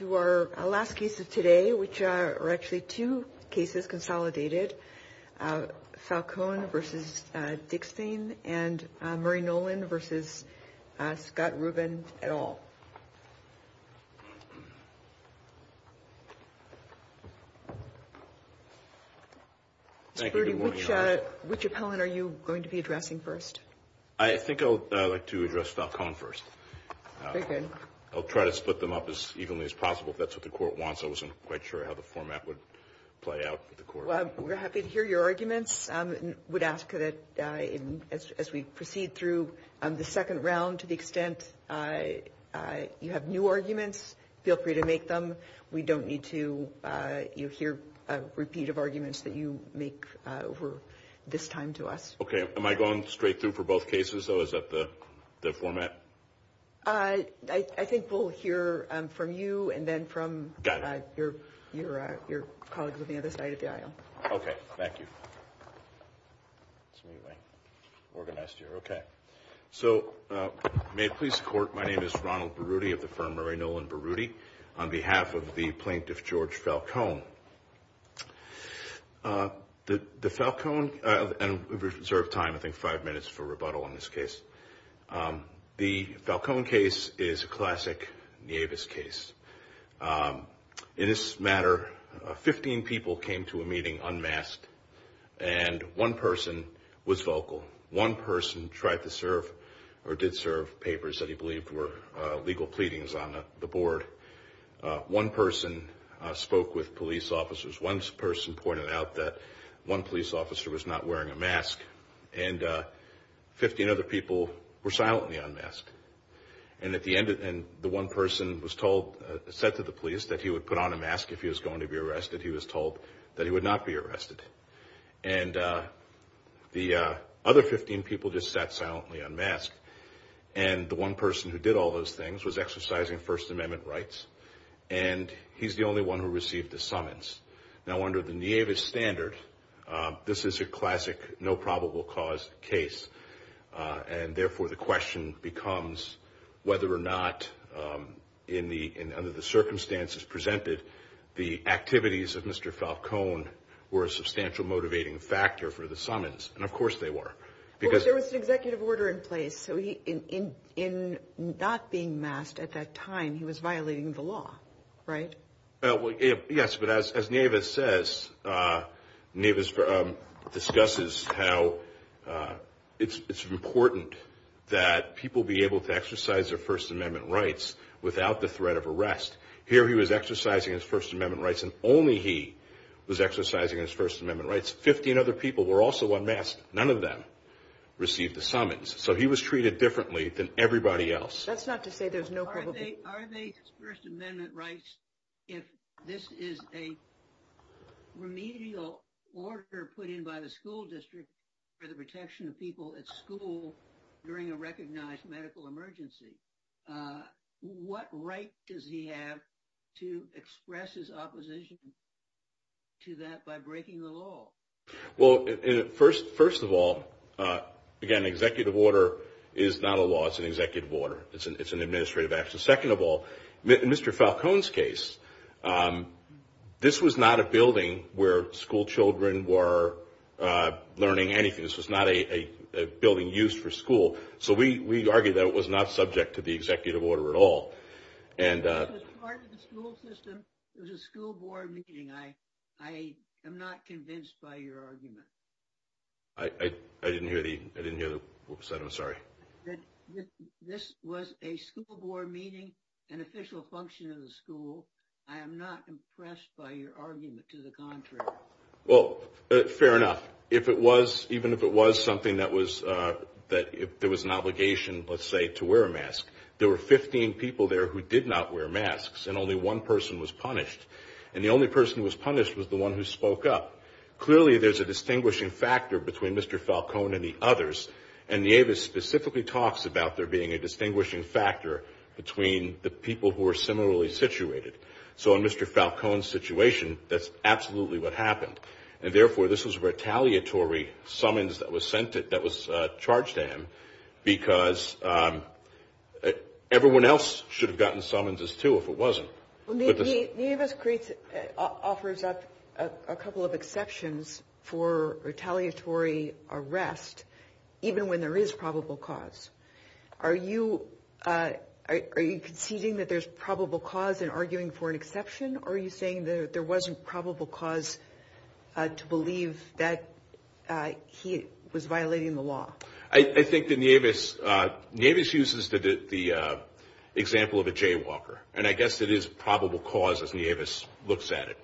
and Murray Nolan v. Scott Rubin et al. Richard Cohen are you going to be addressing first? I think I'd like to address Falcone first. Okay. I'll try to split them up as evenly as possible. If that's what the court wants, I wasn't quite sure how the format would play out for the court. Well, we're happy to hear your arguments. I would ask that as we proceed through the second round to the extent you have new arguments, feel free to make them. We don't need to hear a repeat of arguments that you make over this time to us. Okay. Am I going straight through for both cases, though? Is that the format? I think we'll hear from you and then from your colleagues on the other side of the aisle. Okay. Thank you. May it please the court, my name is Ronald Berruti of the firm Murray Nolan Berruti on behalf of the plaintiff George Falcone. The Falcone, I'll reserve time, I think, five minutes for rebuttal on this case. The Falcone case is a classic Nieves case. In this matter, 15 people came to a meeting unmasked and one person was vocal. One person tried to serve or did serve papers that he believed were legal pleadings on the board. One person spoke with police officers. One person pointed out that one police officer was not wearing a mask. And 15 other people were silently unmasked. And at the end, the one person was told, said to the police that he would put on a mask if he was going to be arrested. He was told that he would not be arrested. And the other 15 people just sat silently unmasked. And the one person who did all those things was exercising First Amendment rights. And he's the only one who received the summons. Now, under the Nieves standard, this is a classic no probable cause case. And, therefore, the question becomes whether or not, under the circumstances presented, the activities of Mr. Falcone were a substantial motivating factor for the summons. And, of course, they were. Because there was an executive order in place. So in not being masked at that time, he was violating the law, right? Yes. But as Nieves says, Nieves discusses how it's important that people be able to exercise their First Amendment rights without the threat of arrest. Here he was exercising his First Amendment rights, and only he was exercising his First Amendment rights. Fifteen other people were also unmasked. None of them received the summons. So he was treated differently than everybody else. That's not to say there's no probable cause. Are they First Amendment rights if this is a remedial order put in by the school district for the protection of people at school during a recognized medical emergency? What right does he have to express his opposition to that by breaking the law? Well, first of all, again, executive order is not a law. It's an executive order. It's an administrative action. Second of all, in Mr. Falcone's case, this was not a building where schoolchildren were learning anything. This was not a building used for school. So we argue that it was not subject to the executive order at all. It was part of the school system. It was a school board meeting. I am not convinced by your argument. I didn't hear the – whoops, I'm sorry. This was a school board meeting, an official function of the school. I am not impressed by your argument to the contrary. Well, fair enough. If it was – even if it was something that was – if there was an obligation, let's say, to wear a mask, there were 15 people there who did not wear masks, and only one person was punished. And the only person who was punished was the one who spoke up. Clearly, there's a distinguishing factor between Mr. Falcone and the others. And Nieves specifically talks about there being a distinguishing factor between the people who are similarly situated. So in Mr. Falcone's situation, that's absolutely what happened. And therefore, this was a retaliatory summons that was sent – that was charged to him because everyone else should have gotten summonses too if it wasn't. Well, Nieves offers up a couple of exceptions for retaliatory arrest even when there is probable cause. Are you conceding that there's probable cause in arguing for an exception, or are you saying that there wasn't probable cause to believe that he was violating the law? I think that Nieves uses the example of a jaywalker. And I guess it is probable cause as Nieves looks at it.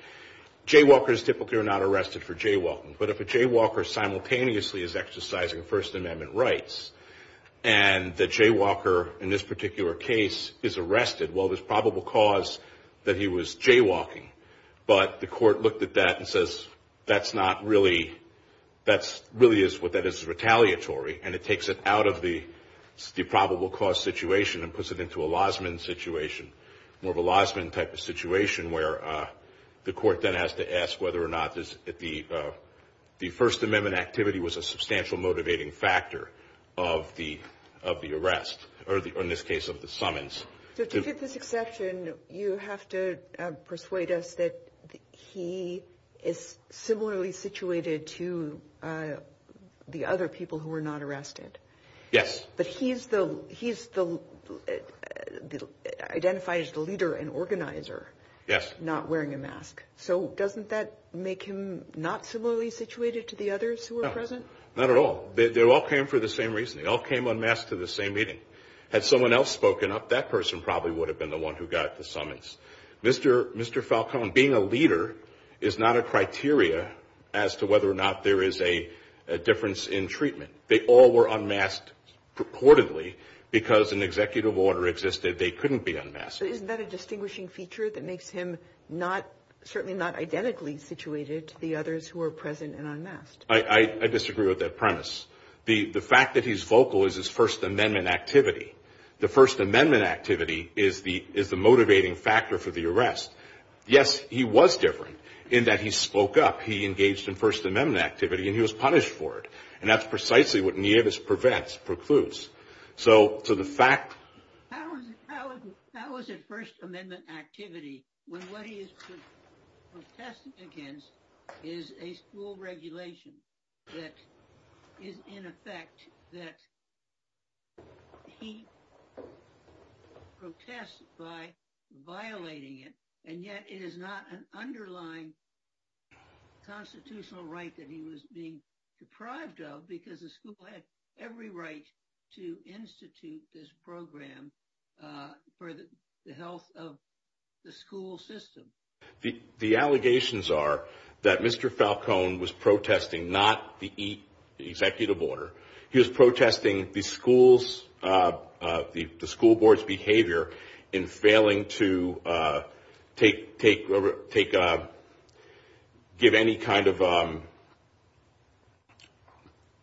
Jaywalkers typically are not arrested for jaywalking. But if a jaywalker simultaneously is exercising First Amendment rights, and the jaywalker in this particular case is arrested, well, there's probable cause that he was jaywalking. But the court looked at that and says, that's not really – that really is what is retaliatory. And it takes it out of the probable cause situation and puts it into a lasman situation, more of a lasman type of situation where the court then has to ask whether or not the First Amendment activity was a substantial motivating factor of the arrest, or in this case of the summons. But to fit this exception, you have to persuade us that he is similarly situated to the other people who were not arrested. Yes. But he's the – identifies the leader and organizer. Yes. Not wearing a mask. So doesn't that make him not similarly situated to the others who were present? No, not at all. They all came for the same reason. They all came unmasked to the same meeting. Had someone else spoken up, that person probably would have been the one who got at the summons. Mr. Falcone, being a leader is not a criteria as to whether or not there is a difference in treatment. They all were unmasked purportedly because an executive order existed. They couldn't be unmasked. Isn't that a distinguishing feature that makes him not – certainly not identically situated to the others who were present and unmasked? I disagree with that premise. The fact that he's vocal is his First Amendment activity. The First Amendment activity is the motivating factor for the arrest. Yes, he was different in that he spoke up. He engaged in First Amendment activity and he was punished for it. And that's precisely what Nieves prevents, precludes. How is it First Amendment activity when what he is protesting against is a school regulation that is in effect that he protests by violating it, and yet it is not an underlying constitutional right that he was being deprived of because the school had every right to institute this program for the health of the school system? The allegations are that Mr. Falcone was protesting not the executive order. He was protesting the school's – the school board's behavior in failing to take – give any kind of –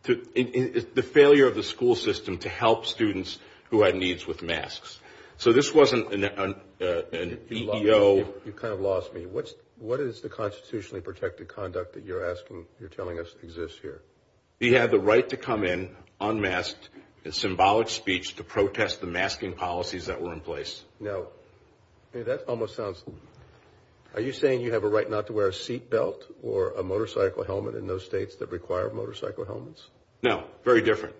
the failure of the school system to help students who had needs with masks. So this wasn't an EEO. You kind of lost me. What is the constitutionally protected conduct that you're asking – you're telling us exists here? He had the right to come in unmasked in symbolic speech to protest the masking policies that were in place. Now, that almost sounds – are you saying you have a right not to wear a seatbelt or a motorcycle helmet in those states that require motorcycle helmets? No, very different.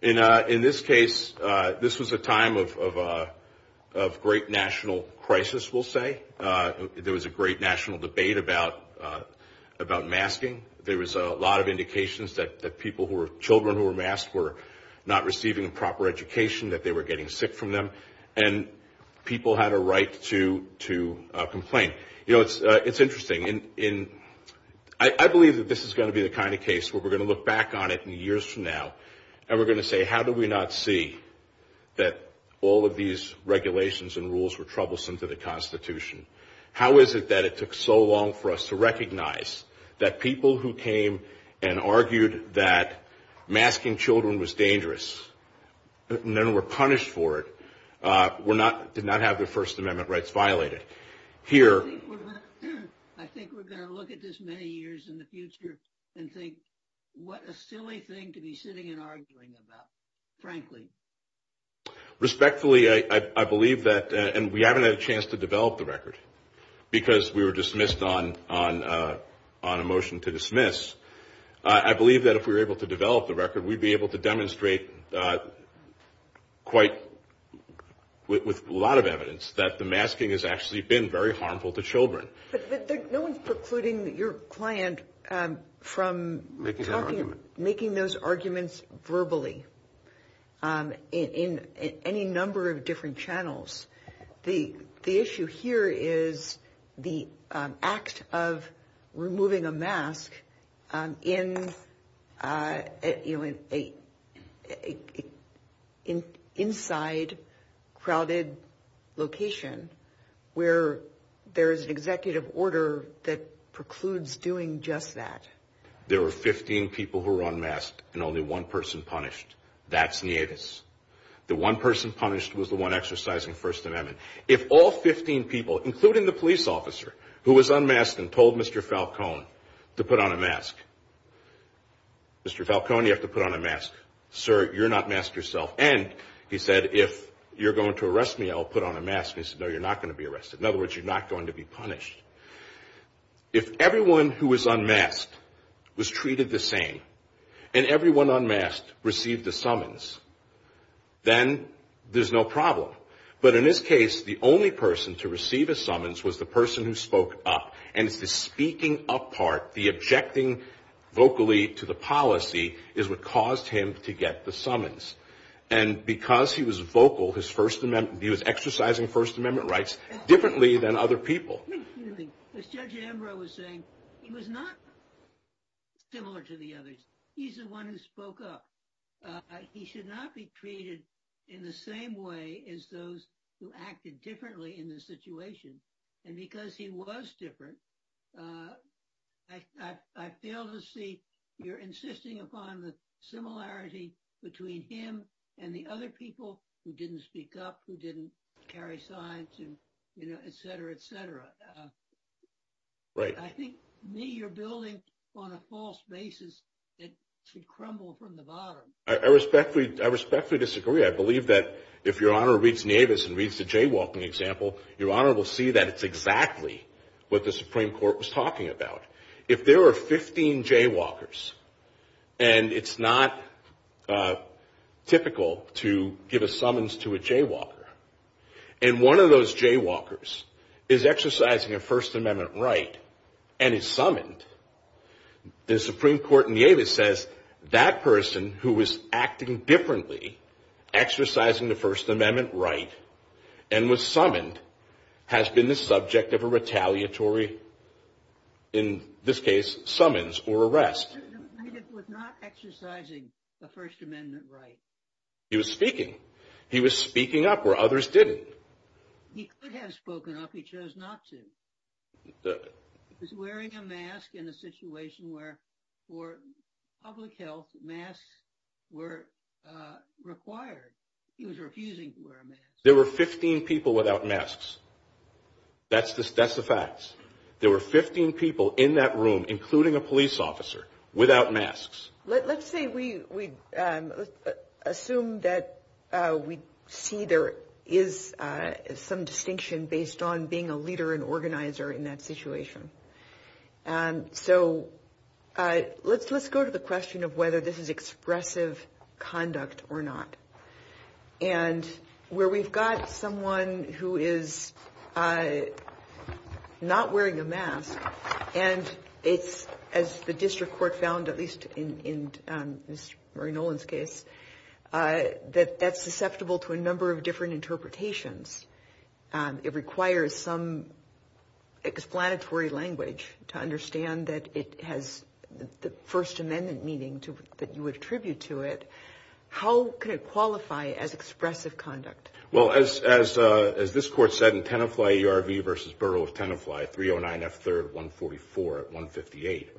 In this case, this was a time of great national crisis, we'll say. There was a great national debate about masking. There was a lot of indications that people who were – children who were masked were not receiving the proper education, that they were getting sick from them, and people had a right to complain. You know, it's interesting. And I believe that this is going to be the kind of case where we're going to look back on it in the years from now and we're going to say, how did we not see that all of these regulations and rules were troublesome to the constitution? How is it that it took so long for us to recognize that people who came and argued that masking children was dangerous and then were punished for it did not have their First Amendment rights violated? Here – I think we're going to look at this many years in the future and think, what a silly thing to be sitting and arguing about, frankly. Respectfully, I believe that – and we haven't had a chance to develop the record because we were dismissed on a motion to dismiss. I believe that if we were able to develop the record, we'd be able to demonstrate quite – with a lot of evidence that the masking has actually been very harmful to children. But no one's precluding your client from making those arguments verbally in any number of different channels. The issue here is the act of removing a mask in an inside, crowded location where there is an executive order that precludes doing just that. There were 15 people who were unmasked and only one person punished. That's Niedes. The one person punished was the one exercising First Amendment. If all 15 people, including the police officer who was unmasked and told Mr. Falcone to put on a mask – Mr. Falcone, you have to put on a mask. Sir, you're not masked yourself. And he said, if you're going to arrest me, I'll put on a mask. He said, no, you're not going to be arrested. In other words, you're not going to be punished. If everyone who was unmasked was treated the same and everyone unmasked received a summons, then there's no problem. But in this case, the only person to receive a summons was the person who spoke up. And the speaking up part, the objecting vocally to the policy is what caused him to get the summons. And because he was vocal, he was exercising First Amendment rights differently than other people. As Judge Ambrose was saying, he was not similar to the others. He's the one who spoke up. He should not be treated in the same way as those who acted differently in the situation. And because he was different, I fail to see you're insisting upon the similarity between him and the other people who didn't speak up, who didn't carry signs, et cetera, et cetera. I think, me, you're building on a false basis that should crumble from the bottom. I respectfully disagree. I believe that if Your Honor reads Navis and reads the jaywalking example, Your Honor will see that it's exactly what the Supreme Court was talking about. If there were 15 jaywalkers, and it's not typical to give a summons to a jaywalker, and one of those jaywalkers is exercising a First Amendment right and is summoned, the Supreme Court in Yates says that person who was acting differently, exercising the First Amendment right, and was summoned has been the subject of a retaliatory, in this case, summons or arrest. Navis was not exercising a First Amendment right. He was speaking. He was speaking up where others didn't. He could have spoken up. He chose not to. He was wearing a mask in a situation where, for public health, masks were required. He was refusing to wear a mask. There were 15 people without masks. That's the facts. There were 15 people in that room, including a police officer, without masks. Let's say we assume that we see there is some distinction based on being a leader and organizer in that situation. So let's go to the question of whether this is expressive conduct or not. And where we've got someone who is not wearing a mask, and it's, as the district court found, at least in Mr. Murray Nolan's case, that that's susceptible to a number of different interpretations. It requires some explanatory language to understand that it has the First Amendment meaning that you attribute to it. How could it qualify as expressive conduct? Well, as this court said in Tenafly ERV v. Borough of Tenafly, 309 F. 3rd 144 at 158,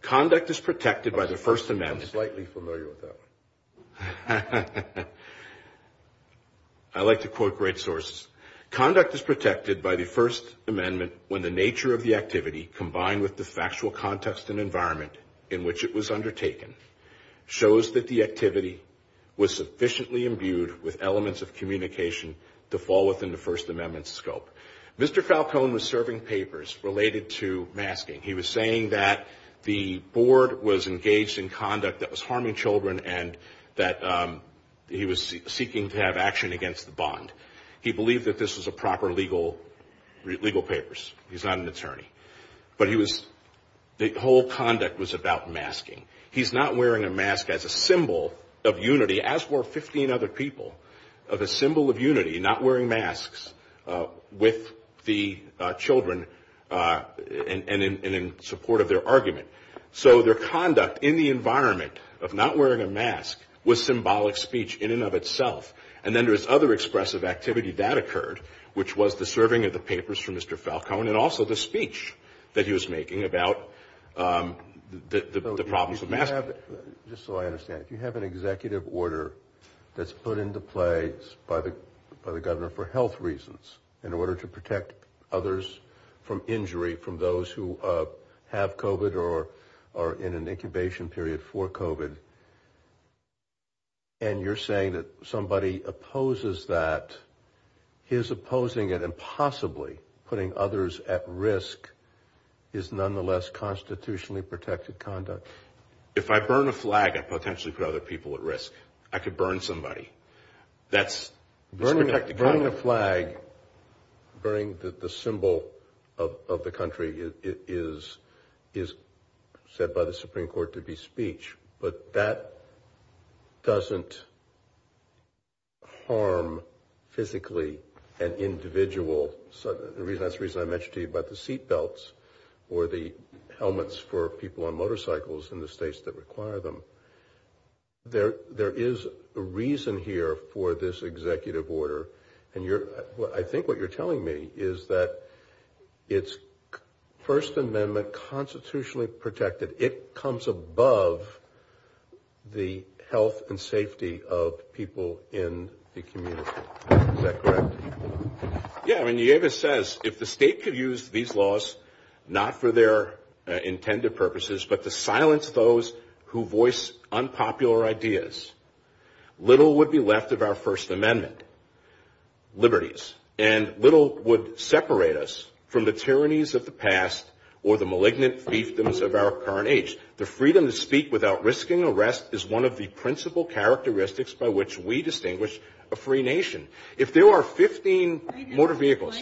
conduct is protected by the First Amendment. I'm slightly familiar with that. I like to quote great sources. Conduct is protected by the First Amendment when the nature of the activity, combined with the factual context and environment in which it was undertaken, shows that the activity was sufficiently imbued with elements of communication to fall within the First Amendment's scope. Mr. Falcone was serving papers related to masking. He was saying that the board was engaged in conduct that was harming children and that he was seeking to have action against the bond. He believed that this was a proper legal papers. He's not an attorney. But the whole conduct was about masking. He's not wearing a mask as a symbol of unity, as were 15 other people, of a symbol of unity not wearing masks with the children and in support of their argument. So their conduct in the environment of not wearing a mask was symbolic speech in and of itself. And then there's other expressive activity that occurred, which was the serving of the papers for Mr. Falcone and also the speech that he was making about the problems of masking. Just so I understand, you have an executive order that's put into place by the governor for health reasons, in order to protect others from injury, from those who have COVID or are in an incubation period for COVID. And you're saying that somebody opposes that, is opposing it, and possibly putting others at risk is nonetheless constitutionally protected conduct. If I burn a flag, I potentially put other people at risk. I could burn somebody. Burning a flag, burning the symbol of the country is said by the Supreme Court to be speech. But that doesn't harm physically an individual. So that's the reason I mentioned to you about the seatbelts or the helmets for people on motorcycles in the states that require them. There is a reason here for this executive order. And I think what you're telling me is that it's First Amendment constitutionally protected. That it comes above the health and safety of people in the community. Is that correct? Yeah. I mean, it says if the state could use these laws, not for their intended purposes, but to silence those who voice unpopular ideas, little would be left of our First Amendment liberties. And little would separate us from the tyrannies of the past or the malignant fiefdoms of our current age. The freedom to speak without risking arrest is one of the principal characteristics by which we distinguish a free nation. If there are 15 motor vehicles...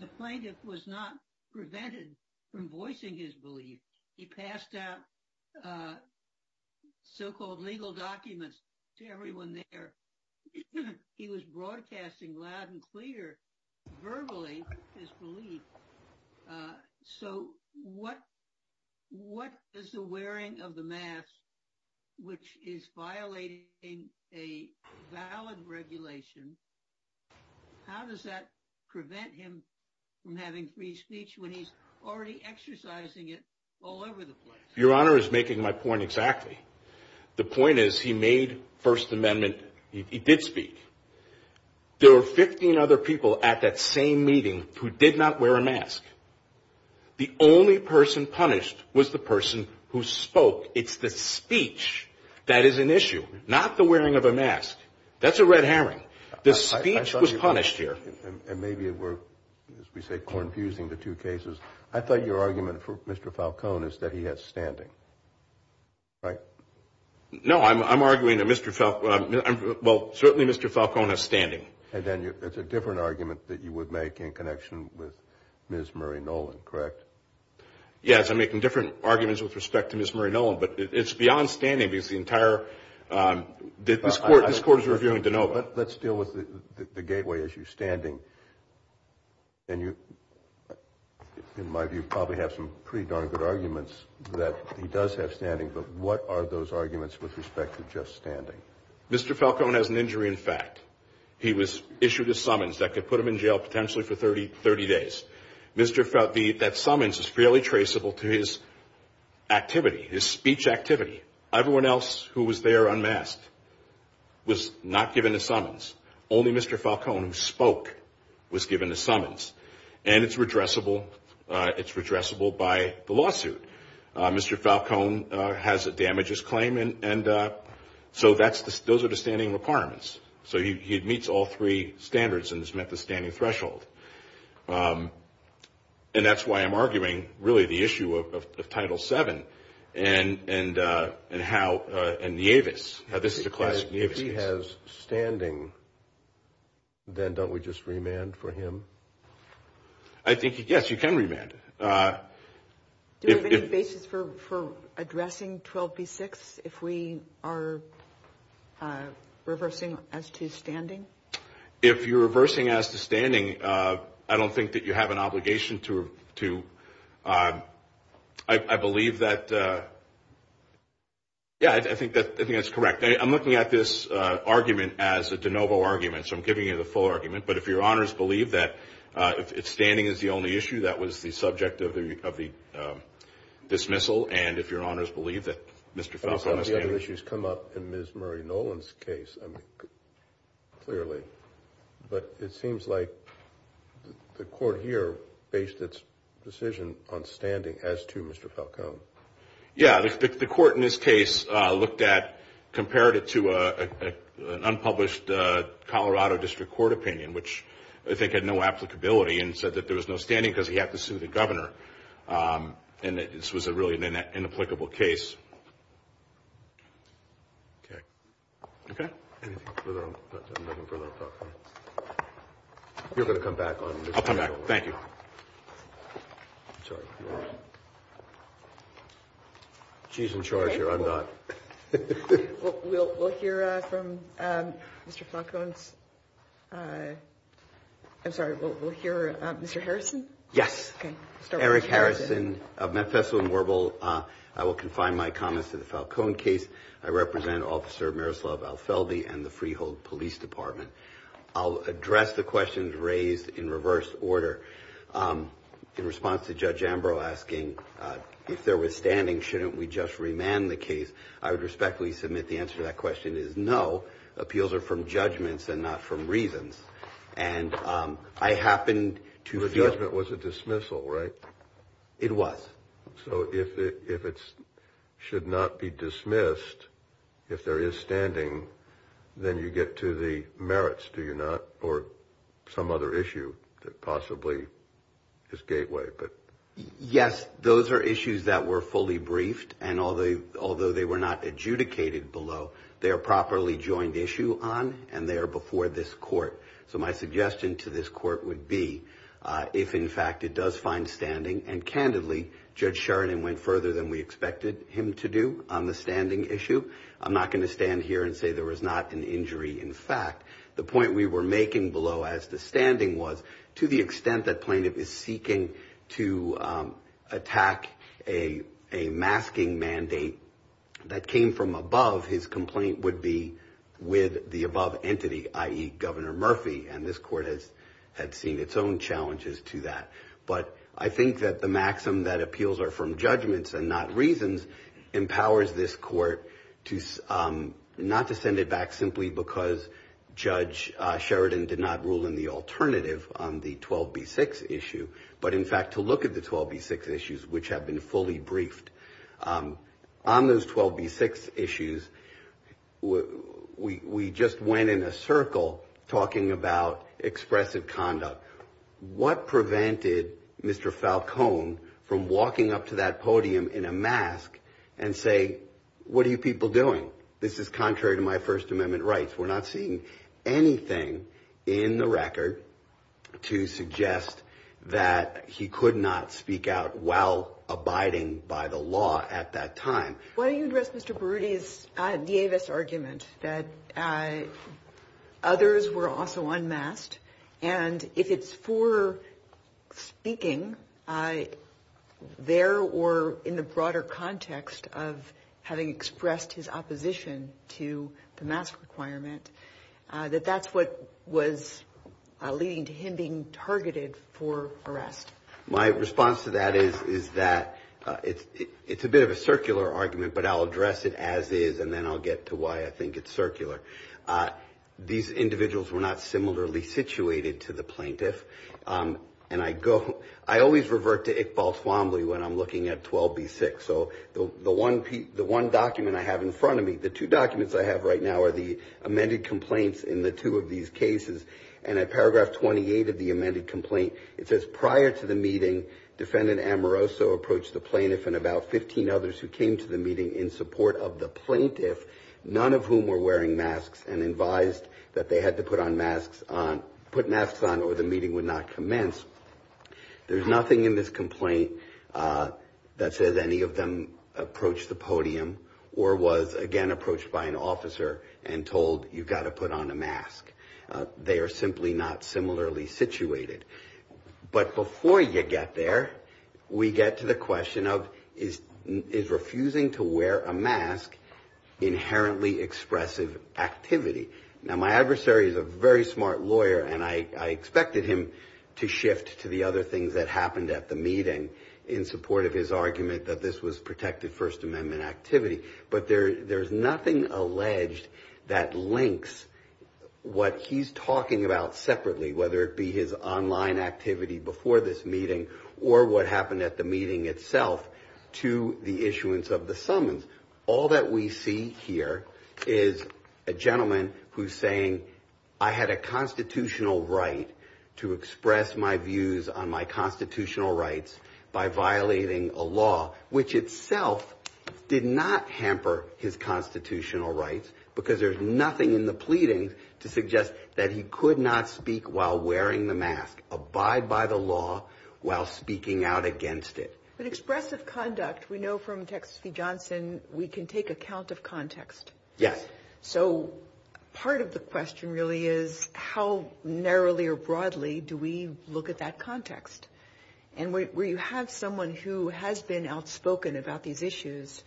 The plaintiff was not prevented from voicing his belief. He passed out so-called legal documents to everyone there. He was broadcasting loud and clear verbally his belief. So what is the wearing of the mask which is violating a valid regulation? How does that prevent him from having free speech when he's already exercising it all over the place? Your Honor is making my point exactly. The point is he made First Amendment. He did speak. There were 15 other people at that same meeting who did not wear a mask. The only person punished was the person who spoke. It's the speech that is an issue, not the wearing of a mask. That's a red herring. The speech was punished here. And maybe it were, as we say, confusing the two cases. I thought your argument for Mr. Falcone is that he has standing, right? No, I'm arguing that Mr. Falcone... Well, certainly Mr. Falcone has standing. And then it's a different argument that you would make in connection with Ms. Marie Nolan, correct? Yes, I'm making different arguments with respect to Ms. Marie Nolan. But it's beyond standing because the entire... This Court is reviewing DeNova. Let's deal with the gateway issue, standing. And you, in my view, probably have some pretty darn good arguments that he does have standing. But what are those arguments with respect to just standing? Mr. Falcone has an injury in fact. He was issued a summons that could put him in jail potentially for 30 days. That summons is fairly traceable to his activity, his speech activity. Everyone else who was there unmasked was not given a summons. Only Mr. Falcone who spoke was given a summons. And it's redressable. It's redressable by the lawsuit. Mr. Falcone has a damages claim. And so those are the standing requirements. So he meets all three standards and has met the standing threshold. And that's why I'm arguing really the issue of Title VII and how...and Yavis. Now, this is a class... If he has standing, then don't we just remand for him? I think, yes, you can remand. Do we have any basis for addressing 12B6 if we are reversing as to standing? If you're reversing as to standing, I don't think that you have an obligation to... I believe that... Yeah, I think that's correct. I'm looking at this argument as a de novo argument, so I'm giving you the full argument. But if Your Honors believe that standing is the only issue, that was the subject of the dismissal. And if Your Honors believe that Mr. Falcone has standing... I don't know if that issue has come up in Ms. Murray-Nolan's case clearly, but it seems like the court here based its decision on standing as to Mr. Falcone. Yeah, the court in this case looked at... compared it to an unpublished Colorado District Court opinion, which I think had no applicability and said that there was no standing because he had to sue the governor and that this was really an inapplicable case. Okay. Okay? Anything further? You're going to come back on this? I'll come back. Thank you. She's in charge here, I'm not. We'll hear from Mr. Falcone. I'm sorry, we'll hear Mr. Harrison? Yes. Okay. Eric Harrison of Mefeso and Warble. I will confine my comments to the Falcone case. I represent Officer Miroslav Alfeldi and the Freehold Police Department. I'll address the questions raised in reverse order. In response to Judge Ambrose asking if there was standing, shouldn't we just remand the case? I would respectfully submit the answer to that question is no. Appeals are from judgments and not from reasons. And I happen to feel- The judgment was a dismissal, right? It was. So if it should not be dismissed, if there is standing, then you get to the merits, do you not? Or some other issue that possibly is gateway. Yes, those are issues that were fully briefed, and although they were not adjudicated below, they are properly joined issue on, and they are before this court. So my suggestion to this court would be, if in fact it does find standing, and candidly, Judge Sheridan went further than we expected him to do on the standing issue. I'm not going to stand here and say there was not an injury in fact. The point we were making below as to standing was, to the extent that plaintiff is seeking to attack a masking mandate that came from above, his complaint would be with the above entity, i.e., Governor Murphy, and this court has seen its own challenges to that. But I think that the maxim that appeals are from judgments and not reasons empowers this court not to send it back simply because Judge Sheridan did not rule in the alternative on the 12B6 issue, but in fact to look at the 12B6 issues which have been fully briefed. On those 12B6 issues, we just went in a circle talking about expressive conduct. What prevented Mr. Falcone from walking up to that podium in a mask and say, what are you people doing? This is contrary to my First Amendment rights. We're not seeing anything in the record to suggest that he could not speak out while abiding by the law at that time. What interests Mr. Burruti is D'Avett's argument that others were also unmasked, and if it's for speaking there or in the broader context of having expressed his opposition to the mask requirement, that that's what was leading to him being targeted for arrest. My response to that is that it's a bit of a circular argument, but I'll address it as is, and then I'll get to why I think it's circular. These individuals were not similarly situated to the plaintiff, and I always revert to Iqbal Swambley when I'm looking at 12B6. The one document I have in front of me, the two documents I have right now, are the amended complaints in the two of these cases, and at paragraph 28 of the amended complaint, it says prior to the meeting, defendant Amoroso approached the plaintiff and about 15 others who came to the meeting in support of the plaintiff, none of whom were wearing masks and advised that they had to put masks on or the meeting would not commence. There's nothing in this complaint that says any of them approached the podium or was, again, approached by an officer and told you've got to put on a mask. They are simply not similarly situated. But before you get there, we get to the question of, is refusing to wear a mask inherently expressive activity? Now, my adversary is a very smart lawyer, and I expected him to shift to the other things that happened at the meeting in support of his argument that this was protected First Amendment activity, but there's nothing alleged that links what he's talking about separately, whether it be his online activity before this meeting or what happened at the meeting itself to the issuance of the summons. All that we see here is a gentleman who's saying, I had a constitutional right to express my views on my constitutional rights by violating a law, which itself did not hamper his constitutional rights, because there's nothing in the pleading to suggest that he could not speak while wearing the mask, abide by the law while speaking out against it. But expressive conduct, we know from Texas C. Johnson, we can take account of context. Yes. So part of the question really is, how narrowly or broadly do we look at that context? And where you have someone who has been outspoken about these issues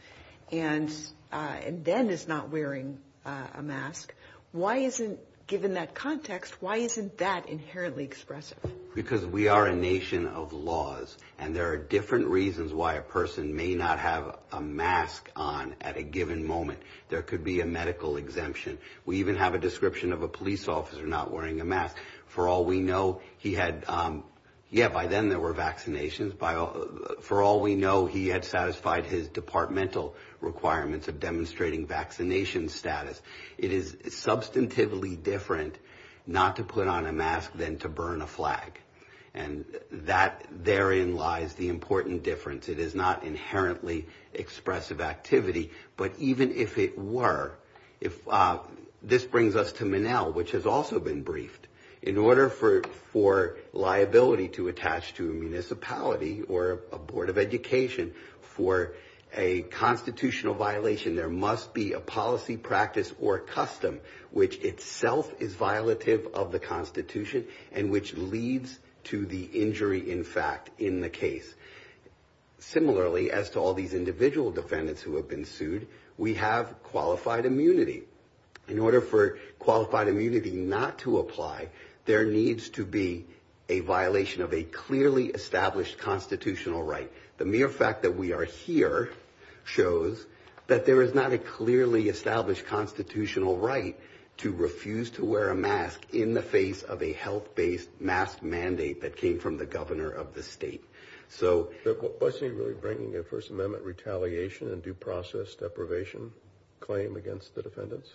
and then is not wearing a mask. Why isn't, given that context, why isn't that inherently expressive? Because we are a nation of laws and there are different reasons why a person may not have a mask on at a given moment. There could be a medical exemption. We even have a description of a police officer not wearing a mask. For all we know, he had, yeah, by then there were vaccinations. For all we know, he had satisfied his departmental requirements of demonstrating vaccination status. It is substantively different not to put on a mask than to burn a flag. And that therein lies the important difference. It is not inherently expressive activity. But even if it were, this brings us to Menel, which has also been briefed. In order for liability to attach to a municipality or a board of education for a constitutional violation, there must be a policy, practice, or custom which itself is violative of the Constitution and which leads to the injury, in fact, in the case. Similarly, as to all these individual defendants who have been sued, we have qualified immunity. In order for qualified immunity not to apply, there needs to be a violation of a clearly established constitutional right. The mere fact that we are here shows that there is not a clearly established constitutional right to refuse to wear a mask in the face of a health-based mask mandate that came from the governor of the state. Was he really bringing a First Amendment retaliation and due process deprivation claim against the defendants?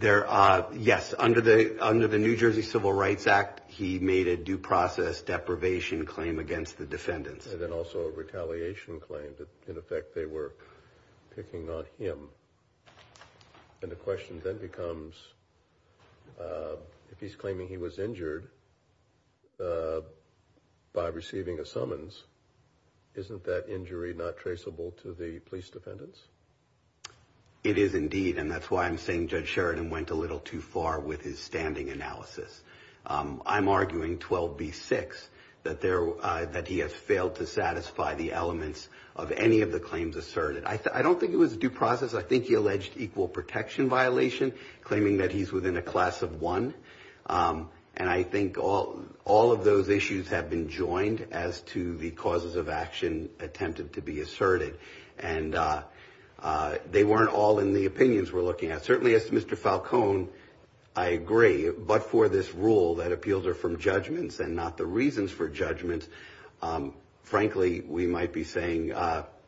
Yes. Under the New Jersey Civil Rights Act, he made a due process deprivation claim against the defendants. And then also a retaliation claim that, in effect, they were picking on him. And the question then becomes, if he's claiming he was injured by receiving a summons, isn't that injury not traceable to the police defendants? It is indeed, and that's why I'm saying Judge Sheridan went a little too far with his standing analysis. I'm arguing 12b-6, that he has failed to satisfy the elements of any of the claims asserted. I don't think it was due process. I think he alleged equal protection violation, claiming that he's within a class of one. And I think all of those issues have been joined as to the causes of action attempted to be asserted. And they weren't all in the opinions we're looking at. Certainly, as Mr. Falcone, I agree, but for this rule that appeals are from judgments and not the reasons for judgments, frankly, we might be saying,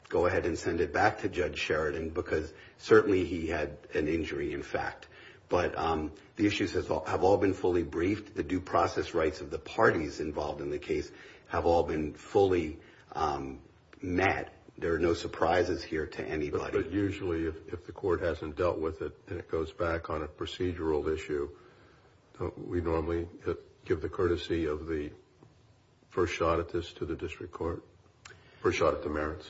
go ahead and send it back to Judge Sheridan, because certainly he had an injury, in fact. But the issues have all been fully briefed. The due process rights of the parties involved in the case have all been fully met. There are no surprises here to anybody. But usually, if the court hasn't dealt with it and it goes back on a procedural issue, we normally give the courtesy of the first shot at this to the district court. First shot at the merits.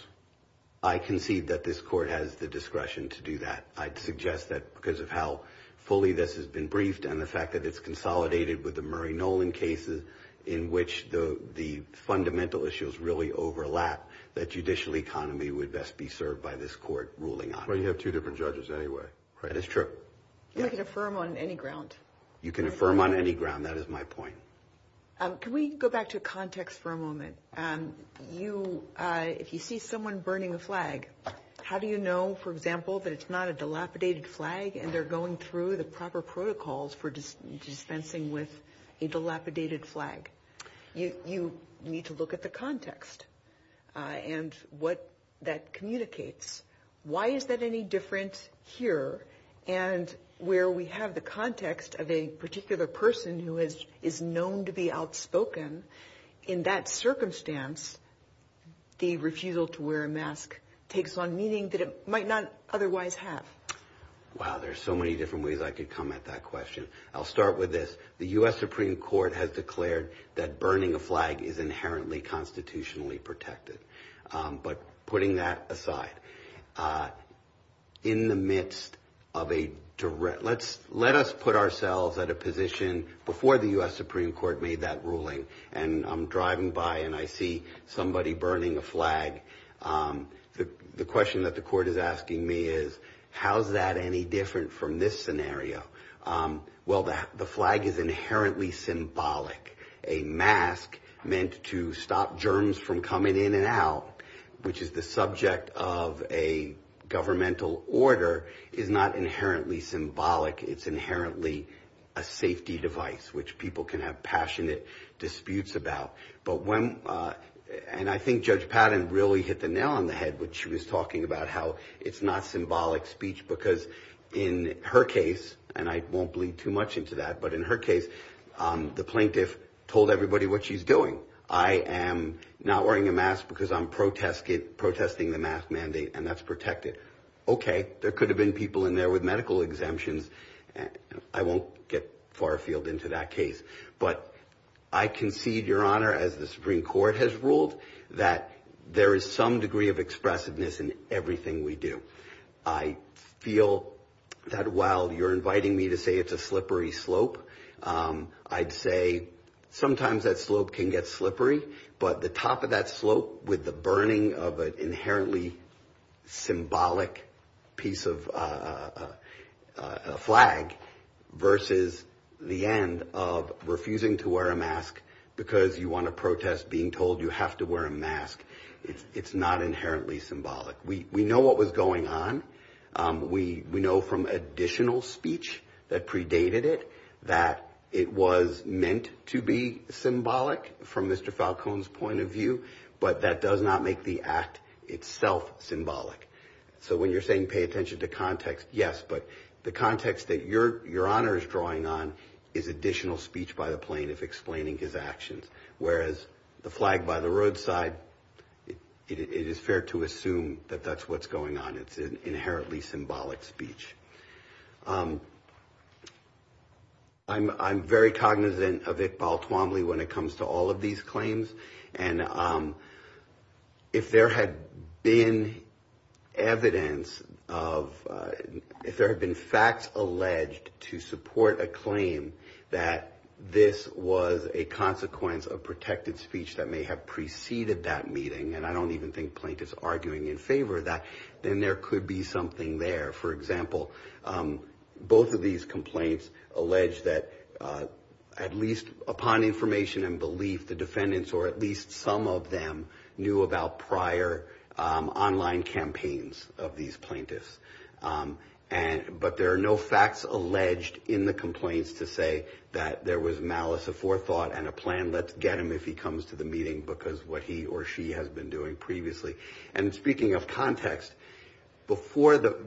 I concede that this court has the discretion to do that. I'd suggest that because of how fully this has been briefed and the fact that it's consolidated with the Murray-Nolan cases, in which the fundamental issues really overlap, that judicial economy would best be served by this court ruling on it. Well, you have two different judges anyway. That is true. You can affirm on any ground. You can affirm on any ground. That is my point. Can we go back to context for a moment? If you see someone burning a flag, how do you know, for example, that it's not a dilapidated flag and they're going through the proper protocols for dispensing with a dilapidated flag? You need to look at the context and what that communicates. Why is that any different here? And where we have the context of a particular person who is known to be outspoken, in that circumstance the refusal to wear a mask takes on meaning that it might not otherwise have. Wow, there's so many different ways I could come at that question. I'll start with this. The U.S. Supreme Court has declared that burning a flag is inherently constitutionally protected. But putting that aside, in the midst of a direct ‑‑ let us put ourselves at a position, before the U.S. Supreme Court made that ruling, and I'm driving by and I see somebody burning a flag, the question that the court is asking me is, how is that any different from this scenario? Well, the flag is inherently symbolic. A mask meant to stop germs from coming in and out, which is the subject of a governmental order, is not inherently symbolic. It's inherently a safety device, which people can have passionate disputes about. And I think Judge Patton really hit the nail on the head when she was talking about how it's not symbolic speech, because in her case, and I won't bleed too much into that, but in her case, the plaintiff told everybody what she's doing. I am not wearing a mask because I'm protesting the mask mandate, and that's protected. Okay, there could have been people in there with medical exemptions. I won't get far afield into that case. But I concede, Your Honor, as the Supreme Court has ruled, that there is some degree of expressiveness in everything we do. I feel that while you're inviting me to say it's a slippery slope, I'd say sometimes that slope can get slippery, but the top of that slope with the burning of an inherently symbolic piece of flag versus the end of refusing to wear a mask because you want to protest being told you have to wear a mask, it's not inherently symbolic. We know what was going on. We know from additional speech that predated it that it was meant to be symbolic from Mr. Falcone's point of view, but that does not make the act itself symbolic. So when you're saying pay attention to context, yes, but the context that Your Honor is drawing on is additional speech by the plaintiff explaining his actions, whereas the flag by the roadside, it is fair to assume that that's what's going on. It's an inherently symbolic speech. I'm very cognizant of it, Baltimore, when it comes to all of these claims, and if there had been evidence of – if there had been facts alleged to support a claim that this was a consequence of protected speech that may have preceded that meeting, and I don't even think plaintiffs are arguing in favor of that, then there could be something there. For example, both of these complaints allege that at least upon information and belief, the defendants or at least some of them knew about prior online campaigns of these plaintiffs, but there are no facts alleged in the complaints to say that there was malice aforethought and a plan let's get him if he comes to the meeting because what he or she has been doing previously. And speaking of context,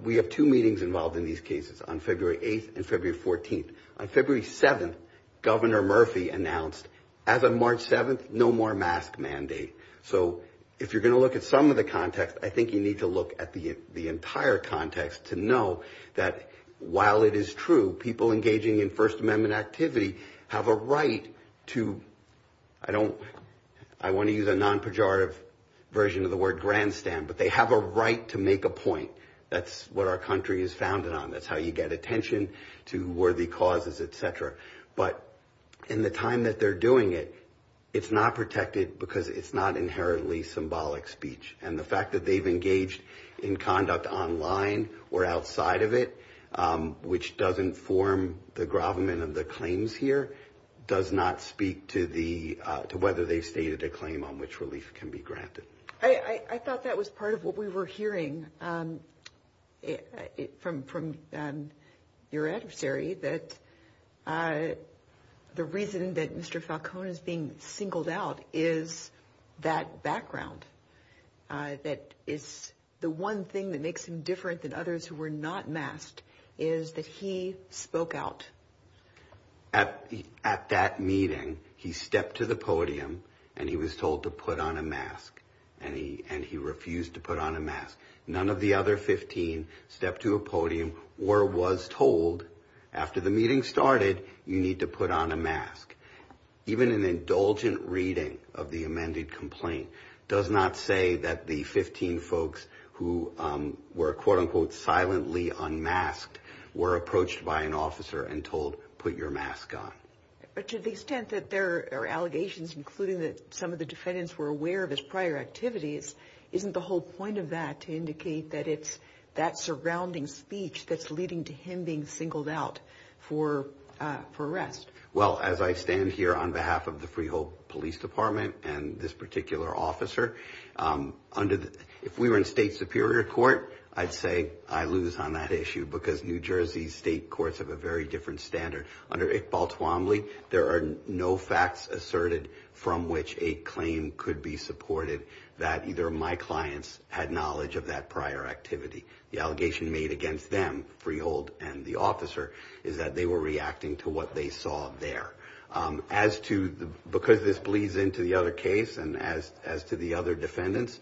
we have two meetings involved in these cases on February 8th and February 14th. On February 7th, Governor Murphy announced as of March 7th, no more mask mandate. So if you're going to look at some of the context, I think you need to look at the entire context to know that while it is true, people engaging in First Amendment activity have a right to – I don't – I want to use a non-pejorative version of the word grandstand, but they have a right to make a point. That's what our country is founded on. That's how you get attention to worthy causes, et cetera. But in the time that they're doing it, it's not protected because it's not inherently symbolic speech. And the fact that they've engaged in conduct online or outside of it, which doesn't form the gravamen of the claims here, does not speak to the – to whether they stated a claim on which release can be granted. I thought that was part of what we were hearing from your adversary, that the reason that Mr. Falcone is being singled out is that background, that it's the one thing that makes him different than others who were not masked is that he spoke out. At that meeting, he stepped to the podium and he was told to put on a mask, and he refused to put on a mask. None of the other 15 stepped to a podium or was told, after the meeting started, you need to put on a mask. Even an indulgent reading of the amended complaint does not say that the 15 folks who were, quote-unquote, silently unmasked were approached by an officer and told, put your mask on. But to the extent that there are allegations, including that some of the defendants were aware of his prior activities, isn't the whole point of that to indicate that it's that surrounding speech that's leading to him being singled out for arrest? Well, as I stand here on behalf of the Freehold Police Department and this particular officer, if we were in state superior court, I'd say I lose on that issue because New Jersey state courts have a very different standard. Under Iqbal Tuamli, there are no facts asserted from which a claim could be supported that either my clients had knowledge of that prior activity. The allegation made against them, Freehold and the officer, is that they were reacting to what they saw there. As to because this bleeds into the other case and as to the other defendants,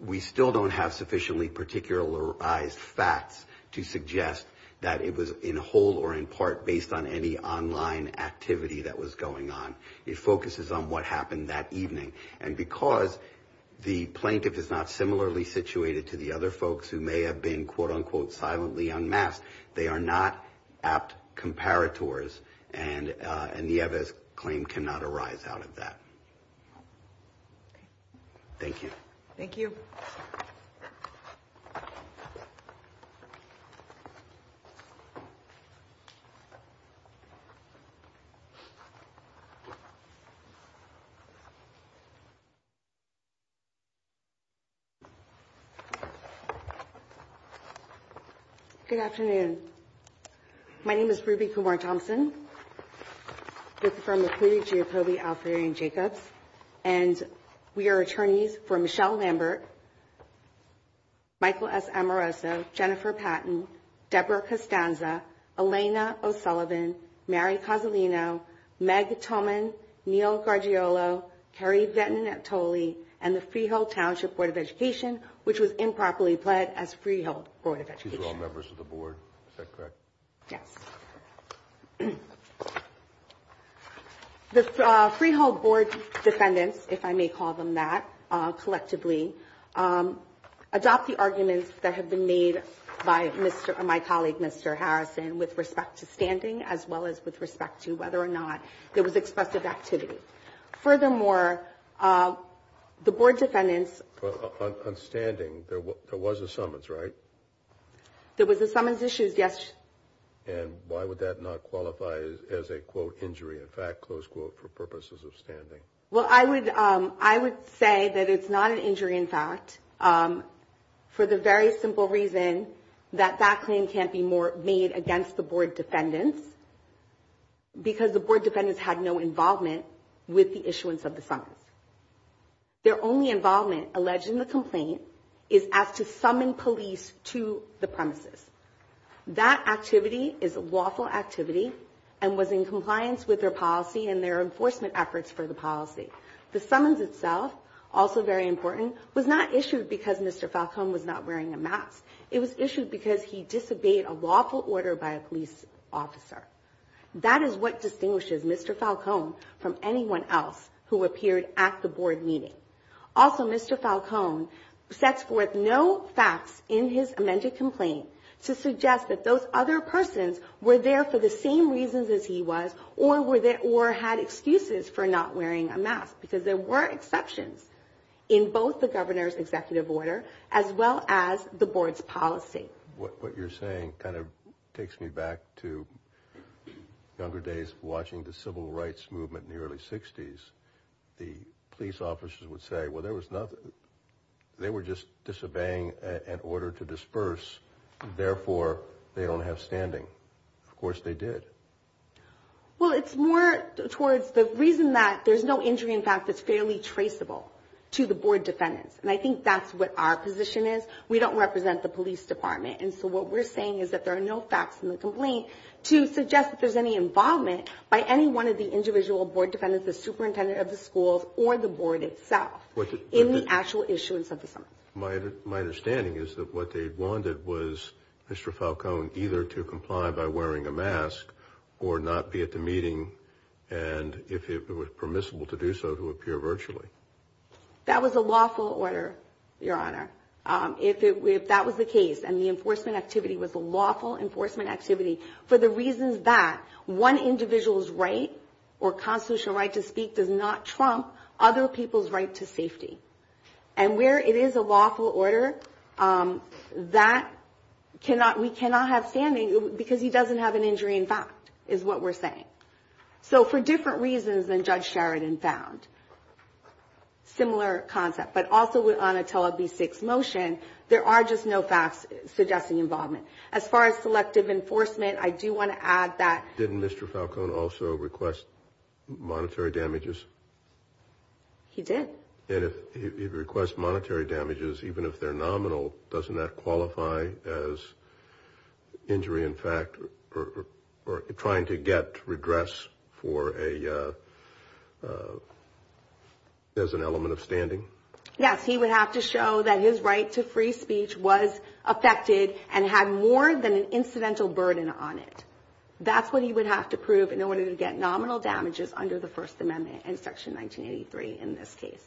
we still don't have sufficiently particularized facts to suggest that it was in whole or in part based on any online activity that was going on. It focuses on what happened that evening. And because the plaintiff is not similarly situated to the other folks who may have been quote unquote silently unmasked, they are not apt comparators and Nieves' claim cannot arise out of that. Thank you. Thank you. Good afternoon. My name is Ruby Gaworne-Thompson. This is for McCleary, Giapovi, Alzieri, and Jacobs. And we are attorneys for Michelle Lambert, Michael S. Amoroso, Jennifer Patton, Deborah Costanza, Elena O'Sullivan, Mary Cosolino, Meg Toman, Neal Gargiulo, Terry Vettin-Natoli, and the Freehold Township Board of Education, which was improperly pled as Freehold Board of Education. These are all members of the board. Is that correct? Yes. The Freehold Board defendants, if I may call them that, collectively, adopt the arguments that have been made by my colleague, Mr. Harrison, with respect to standing, as well as with respect to whether or not there was expressive activity. Furthermore, the board defendants… On standing, there was a summons, right? There was a summons issued yesterday. And why would that not qualify as a, quote, injury, in fact, close quote, for purposes of standing? Well, I would say that it's not an injury, in fact, for the very simple reason that that claim can't be made against the board defendants because the board defendants had no involvement with the issuance of the summons. Their only involvement, alleged in the complaint, is as to summon police to the premises. That activity is a lawful activity and was in compliance with their policy and their enforcement efforts for the policy. The summons itself, also very important, was not issued because Mr. Falcone was not wearing a mask. It was issued because he disobeyed a lawful order by a police officer. That is what distinguishes Mr. Falcone from anyone else who appeared at the board meeting. Also, Mr. Falcone sets forth no facts in his amended complaint to suggest that those other persons were there for the same reasons as he was or had excuses for not wearing a mask because there were exceptions in both the governor's executive order as well as the board's policy. What you're saying kind of takes me back to younger days of watching the civil rights movement in the early 60s. The police officers would say, well, there was nothing. They were just disobeying an order to disperse, therefore they don't have standing. Of course they did. Well, it's more towards the reason that there's no injury in fact that's fairly traceable to the board defendants. And I think that's what our position is. We don't represent the police department. And so what we're saying is that there are no facts in the complaint to suggest that there's any involvement by any one of the individual board defendants such as the superintendent of the school or the board itself in the actual issuance of the complaint. My understanding is that what they wanted was Mr. Falcone either to comply by wearing a mask or not be at the meeting and if it was permissible to do so, to appear virtually. That was a lawful order, Your Honor. If that was the case and the enforcement activity was a lawful enforcement activity for the reasons that one individual's right or constitutional right to speak does not trump other people's right to safety. And where it is a lawful order, that we cannot have standing because he doesn't have an injury in fact is what we're saying. So for different reasons than Judge Sheridan found, similar concept. But also with Onatella v. Sixth Motion, there are just no facts suggesting involvement. As far as selective enforcement, I do want to add that. Didn't Mr. Falcone also request monetary damages? He did. And if he requests monetary damages even if they're nominal, doesn't that qualify as injury in fact or trying to get regress as an element of standing? Yes, he would have to show that his right to free speech was affected and had more than an incidental burden on it. That's what he would have to prove in order to get nominal damages under the First Amendment and Section 1983 in this case.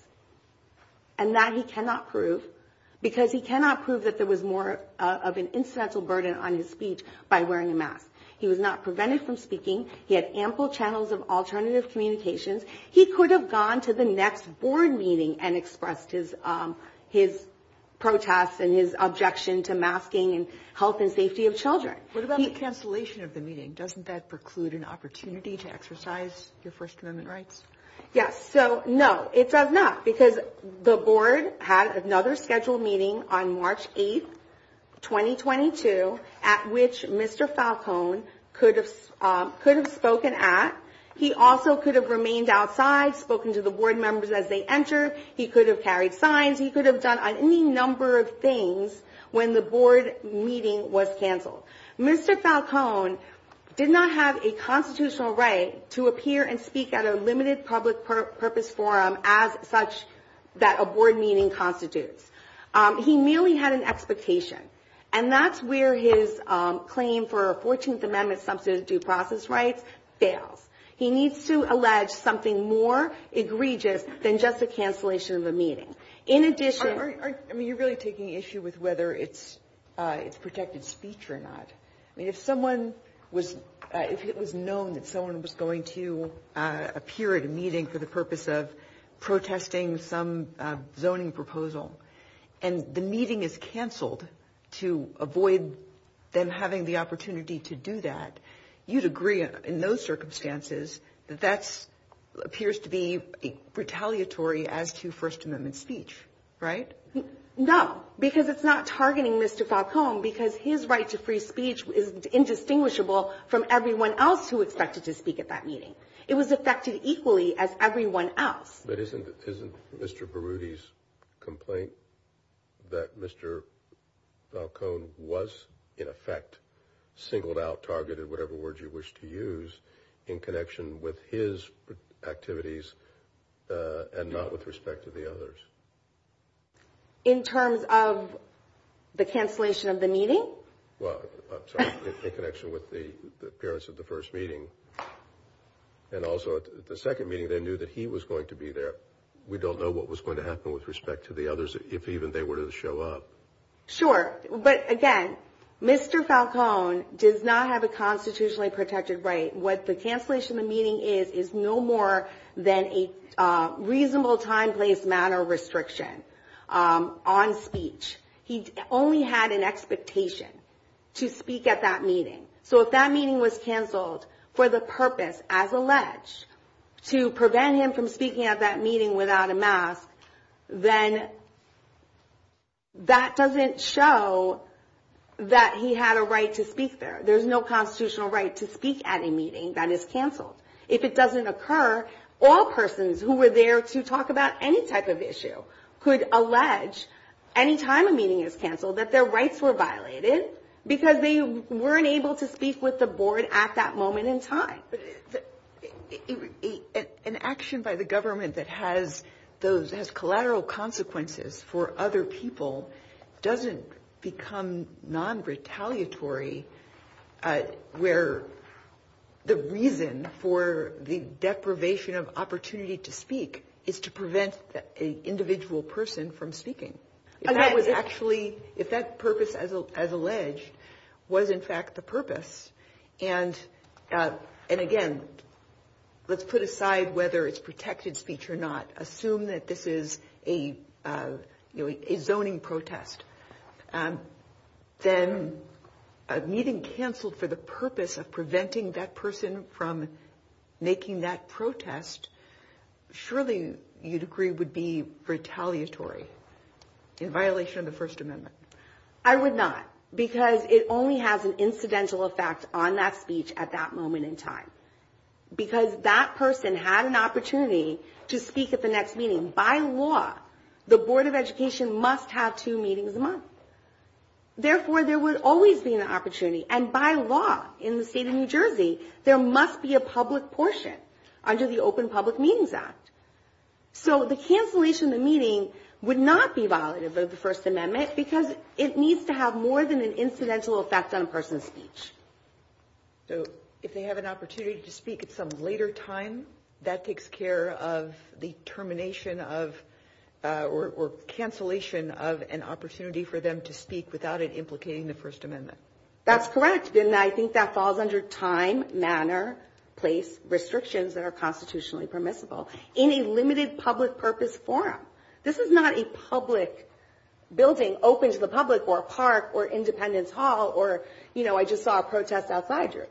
And that he cannot prove because he cannot prove that there was more of an incidental burden on his speech by wearing a mask. He was not prevented from speaking. He had ample channels of alternative communications. He could have gone to the next board meeting and expressed his protest and his objection to masking and health and safety of children. What about the cancellation of the meeting? Doesn't that preclude an opportunity to exercise your First Amendment rights? Yes. So, no, it does not because the board had another scheduled meeting on March 8, 2022, at which Mr. Falcone could have spoken at. He also could have remained outside, spoken to the board members as they entered. He could have carried signs. He could have done any number of things when the board meeting was canceled. Mr. Falcone did not have a constitutional right to appear and speak at a limited public purpose forum as such that a board meeting constitutes. He merely had an expectation, And that's where his claim for a 14th Amendment substantive due process right fails. He needs to allege something more egregious than just the cancellation of the meeting. In addition, I mean, you're really taking issue with whether it's protected speech or not. I mean, if it was known that someone was going to appear at a meeting for the purpose of protesting some zoning proposal and the meeting is canceled to avoid them having the opportunity to do that, you'd agree in those circumstances that that appears to be retaliatory as to First Amendment speech, right? No, because it's not targeting Mr. Falcone because his right to free speech is indistinguishable from everyone else who expected to speak at that meeting. It was affected equally as everyone else. But isn't Mr. Berruti's complaint that Mr. Falcone was in effect singled out, targeted, whatever word you wish to use, in connection with his activities and not with respect to the others? In terms of the cancellation of the meeting? Well, in connection with the appearance of the first meeting and also the second meeting, they knew that he was going to be there. We don't know what was going to happen with respect to the others if even they were to show up. Sure. But again, Mr. Falcone does not have a constitutionally protected right. What the cancellation of the meeting is is no more than a reasonable time, place, manner restriction on speech. He only had an expectation to speak at that meeting. So if that meeting was canceled for the purpose, as alleged, to prevent him from speaking at that meeting without a mask, then that doesn't show that he had a right to speak there. There's no constitutional right to speak at a meeting that is canceled. If it doesn't occur, all persons who were there to talk about any type of issue could allege any time a meeting is canceled that their rights were violated because they weren't able to speak with the board at that moment in time. An action by the government that has collateral consequences for other people doesn't become non-retaliatory where the reason for the deprivation of opportunity to speak is to prevent an individual person from speaking. If that purpose, as alleged, was in fact the purpose, and again, let's put aside whether it's protected speech or not, assume that this is a zoning protest, then a meeting canceled for the purpose of preventing that person from making that protest, surely you'd agree would be retaliatory in violation of the First Amendment. I would not because it only has an incidental effect on that speech at that moment in time. Because that person had an opportunity to speak at the next meeting. By law, the Board of Education must have two meetings a month. Therefore, there would always be an opportunity. And by law, in the state of New Jersey, there must be a public portion under the Open Public Meetings Act. So the cancellation of the meeting would not be violative of the First Amendment because it needs to have more than an incidental effect on a person's speech. So if they have an opportunity to speak at some later time, that takes care of the termination or cancellation of an opportunity for them to speak without it implicating the First Amendment. That's correct. And I think that falls under time, manner, place, restrictions that are constitutionally permissible in a limited public purpose forum. This is not a public building open to the public or a park or Independence Hall or, you know, I just saw a protest outside here.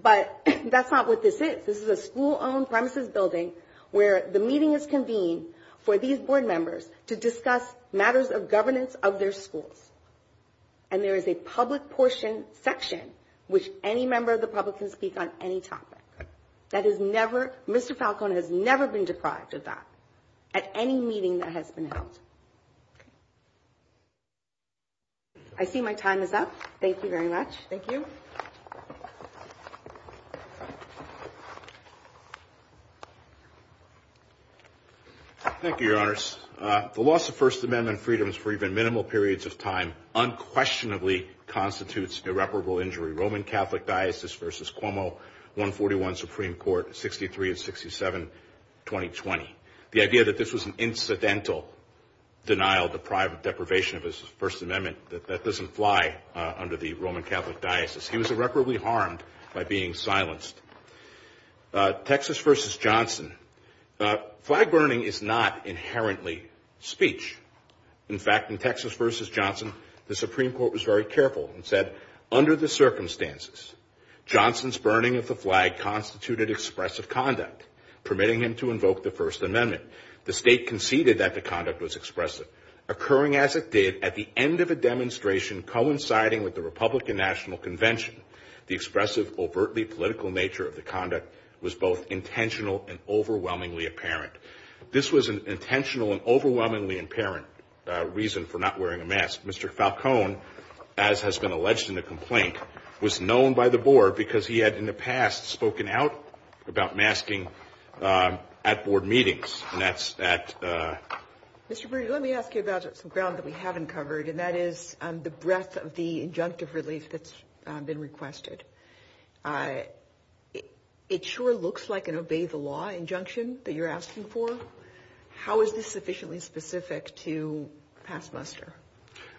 But that's not what this is. This is a school-owned premises building where the meeting is convened for these board members to discuss matters of governance of their school. And there is a public portion section which any member of the public can speak on any topic. That is never, Mr. Falconer has never been deprived of that at any meeting that has been held. I see my time is up. Thank you very much. Thank you. Thank you, Your Honors. The loss of First Amendment freedoms for even minimal periods of time unquestionably constitutes irreparable injury. Roman Catholic Diocese v. Cuomo, 141 Supreme Court, 63 and 67, 2020. The idea that this was an incidental denial, deprivation of the First Amendment, that doesn't fly under the Roman Catholic Diocese. He was irreparably harmed by being silenced. Texas v. Johnson. Flag burning is not inherently speech. In fact, in Texas v. Johnson, the Supreme Court was very careful and said, under the circumstances, Johnson's burning of the flag constituted expressive conduct, permitting him to invoke the First Amendment. The state conceded that the conduct was expressive. Occurring as it did at the end of a demonstration coinciding with the Republican National Convention, the expressive, overtly political nature of the conduct was both intentional and overwhelmingly apparent. This was an intentional and overwhelmingly apparent reason for not wearing a mask. Mr. Falcone, as has been alleged in the complaint, was known by the board because he had in the past spoken out about masking at board meetings. And that's that. Mr. Brewer, let me ask you about some ground that we haven't covered, and that is the breadth of the injunctive relief that's been requested. It sure looks like an obey-the-law injunction that you're asking for. How is this sufficiently specific to past muster?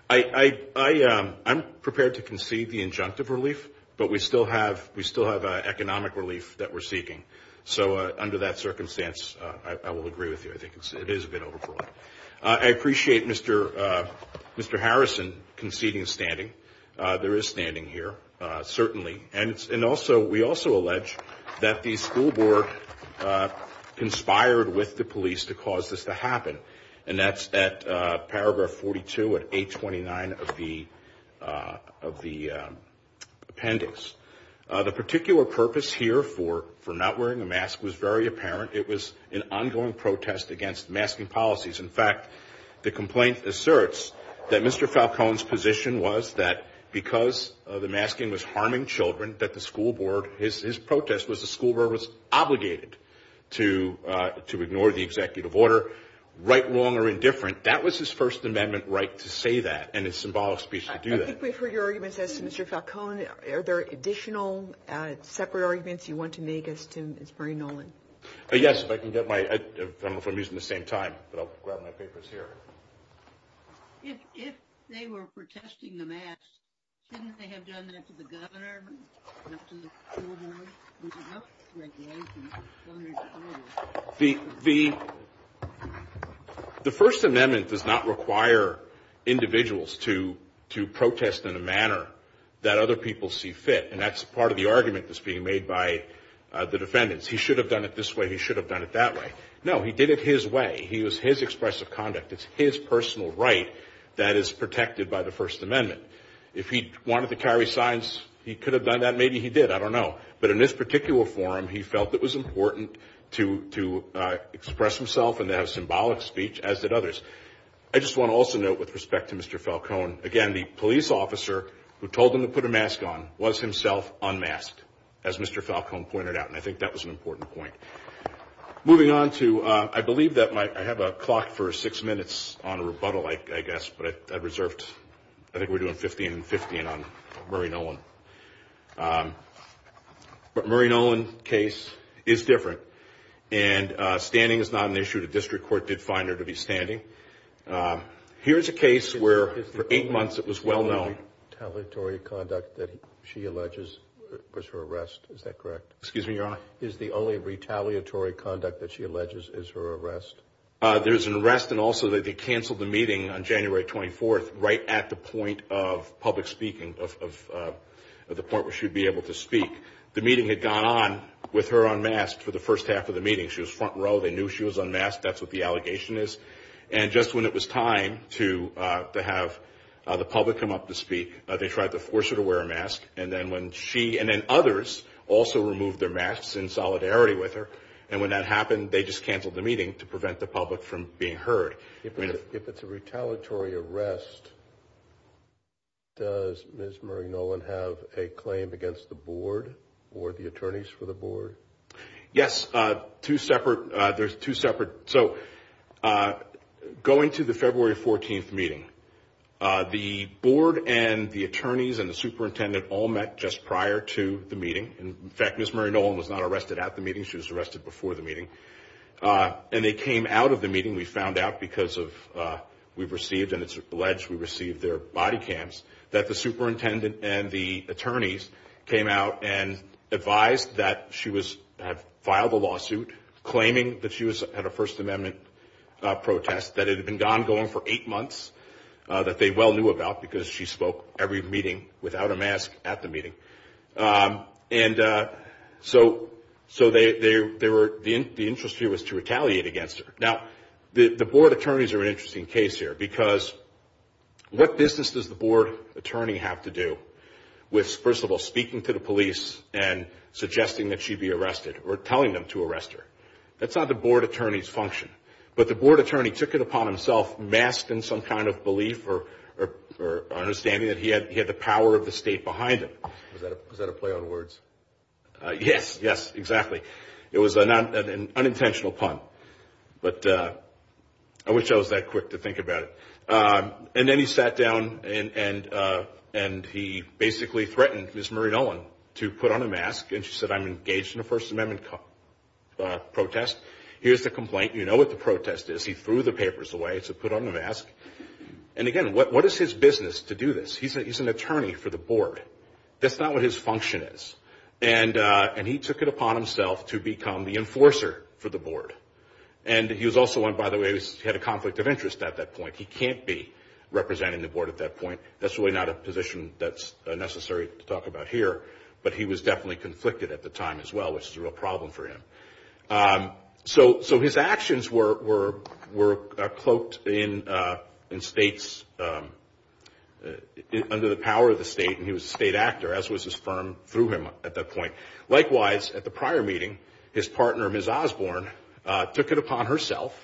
I'm prepared to concede the injunctive relief, but we still have economic relief that we're seeking. So under that circumstance, I will agree with you. It is a bit overbroad. I appreciate Mr. Harrison conceding standing. There is standing here, certainly. And we also allege that the school board conspired with the police to cause this to happen, and that's at paragraph 42 and 829 of the appendix. The particular purpose here for not wearing a mask was very apparent. It was an ongoing protest against masking policies. In fact, the complaint asserts that Mr. Falcone's position was that because the masking was harming children, that the school board, his protest was the school board was obligated to ignore the executive order, right, wrong, or indifferent. That was his First Amendment right to say that and his symbolic speech to do that. I think we've heard your arguments as to Mr. Falcone. Are there additional separate arguments you want to make as to Mr. Nolan? Yes, if I can get my – I don't know if I'm using the same time, but I'll grab my papers here. If they were protesting the masks, shouldn't they have done that to the governor, not to the school board, to the health regulations? The First Amendment does not require individuals to protest in a manner that other people see fit, and that's part of the argument that's being made by the defendants. He should have done it this way. He should have done it that way. No, he did it his way. It was his expressive conduct. It's his personal right that is protected by the First Amendment. If he wanted to carry signs, he could have done that. Maybe he did. I don't know. But in this particular forum, he felt it was important to express himself and to have a symbolic speech, as did others. I just want to also note with respect to Mr. Falcone, again, the police officer who told him to put a mask on was himself unmasked, as Mr. Falcone pointed out, and I think that was an important point. Moving on to – I believe that my – I have a clock for six minutes on a rebuttal, I guess, but I've reserved – I think we're doing 15 and 15 on Murray Nolan. But Murray Nolan's case is different, and standing is not an issue. The district court did find her to be standing. Here's a case where for eight months it was well known. The only retaliatory conduct that she alleges was her arrest. Is that correct? Excuse me, Your Honor? Is the only retaliatory conduct that she alleges is her arrest? There's an arrest, and also they canceled the meeting on January 24th right at the point of public speaking, at the point where she would be able to speak. The meeting had gone on with her unmasked for the first half of the meeting. She was front row. They knew she was unmasked. That's what the allegation is. And just when it was time to have the public come up to speak, they tried to force her to wear a mask. And then when she – and then others also removed their masks in solidarity with her. And when that happened, they just canceled the meeting to prevent the public from being heard. If it's a retaliatory arrest, does Ms. Murray Nolan have a claim against the board or the attorneys for the board? Yes, two separate – there's two separate – so going to the February 14th meeting, the board and the attorneys and the superintendent all met just prior to the meeting. In fact, Ms. Murray Nolan was not arrested at the meeting. She was arrested before the meeting. And they came out of the meeting, we found out, because of – we've received and it's alleged we've received their body cams, that the superintendent and the attorneys came out and advised that she was – had filed a lawsuit claiming that she was at a First Amendment protest that had been ongoing for eight months that they well knew about because she spoke every meeting without a mask at the meeting. And so they were – the interest here was to retaliate against her. Now, the board attorneys are an interesting case here because what business does the board attorney have to do with, first of all, speaking to the police and suggesting that she be arrested or telling them to arrest her? That's not the board attorney's function. But the board attorney took it upon himself, masked in some kind of belief or understanding, that he had the power of the state behind him. Is that a play on words? Yes, yes, exactly. It was an unintentional pun, but I wish I was that quick to think about it. And then he sat down and he basically threatened Ms. Marie Nolan to put on a mask and she said, I'm engaged in a First Amendment protest. Here's the complaint. You know what the protest is. He threw the papers away, said put on the mask. And again, what is his business to do this? He's an attorney for the board. That's not what his function is. And he took it upon himself to become the enforcer for the board. And he was also one, by the way, who had a conflict of interest at that point. He can't be representative of the board at that point. That's really not a position that's necessary to talk about here. But he was definitely conflicted at the time as well, which is a real problem for him. So his actions were cloaked in states, under the power of the state, and he was a state actor, as was his firm through him at that point. Likewise, at the prior meeting, his partner, Ms. Osborne, took it upon herself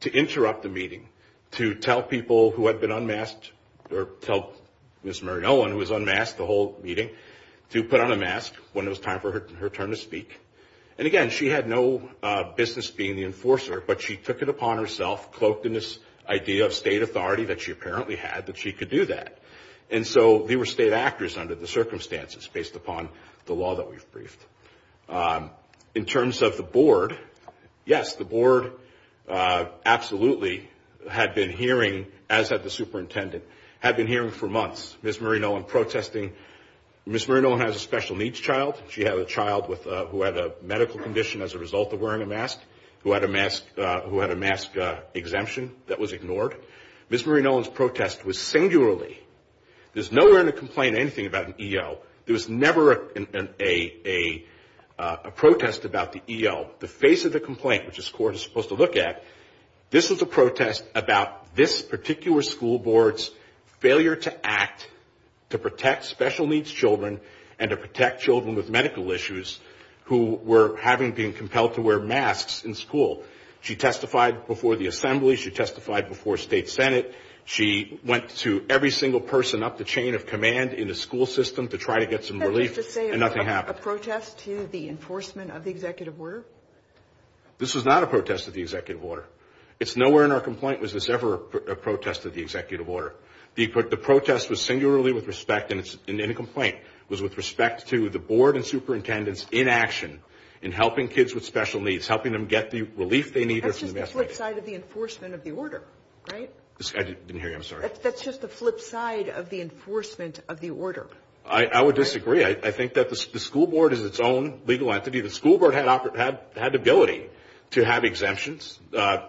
to interrupt the meeting, to tell people who had been unmasked, or tell Ms. Marie Nolan, who was unmasked the whole meeting, to put on a mask when it was time for her turn to speak. And again, she had no business being the enforcer, but she took it upon herself, cloaked in this idea of state authority that she apparently had, that she could do that. And so they were state actors under the circumstances based upon the law that we've briefed. In terms of the board, yes, the board absolutely had been hearing, as had the superintendent, had been hearing for months Ms. Marie Nolan protesting. Ms. Marie Nolan has a special needs child. She had a child who had a medical condition as a result of wearing a mask, who had a mask exemption that was ignored. Ms. Marie Nolan's protest was singularly, there's nowhere in the complaint anything about an EO. There was never a protest about the EO. The face of the complaint, which this court is supposed to look at, this was a protest about this particular school board's failure to act to protect special needs children and to protect children with medical issues who were having, being compelled to wear masks in school. She testified before the assembly. She testified before state senate. She went to every single person up the chain of command in the school system to try to get some relief, and nothing happened. Is that just to say it was a protest to the enforcement of the executive order? This was not a protest of the executive order. It's nowhere in our complaint was this ever a protest of the executive order. The protest was singularly with respect, and in the complaint, was with respect to the board and superintendents in action in helping kids with special needs, helping them get the relief they need. That's just the flip side of the enforcement of the order, right? I didn't hear you. I'm sorry. That's just the flip side of the enforcement of the order. I would disagree. I think that the school board is its own legal entity. The school board had the ability to have exemptions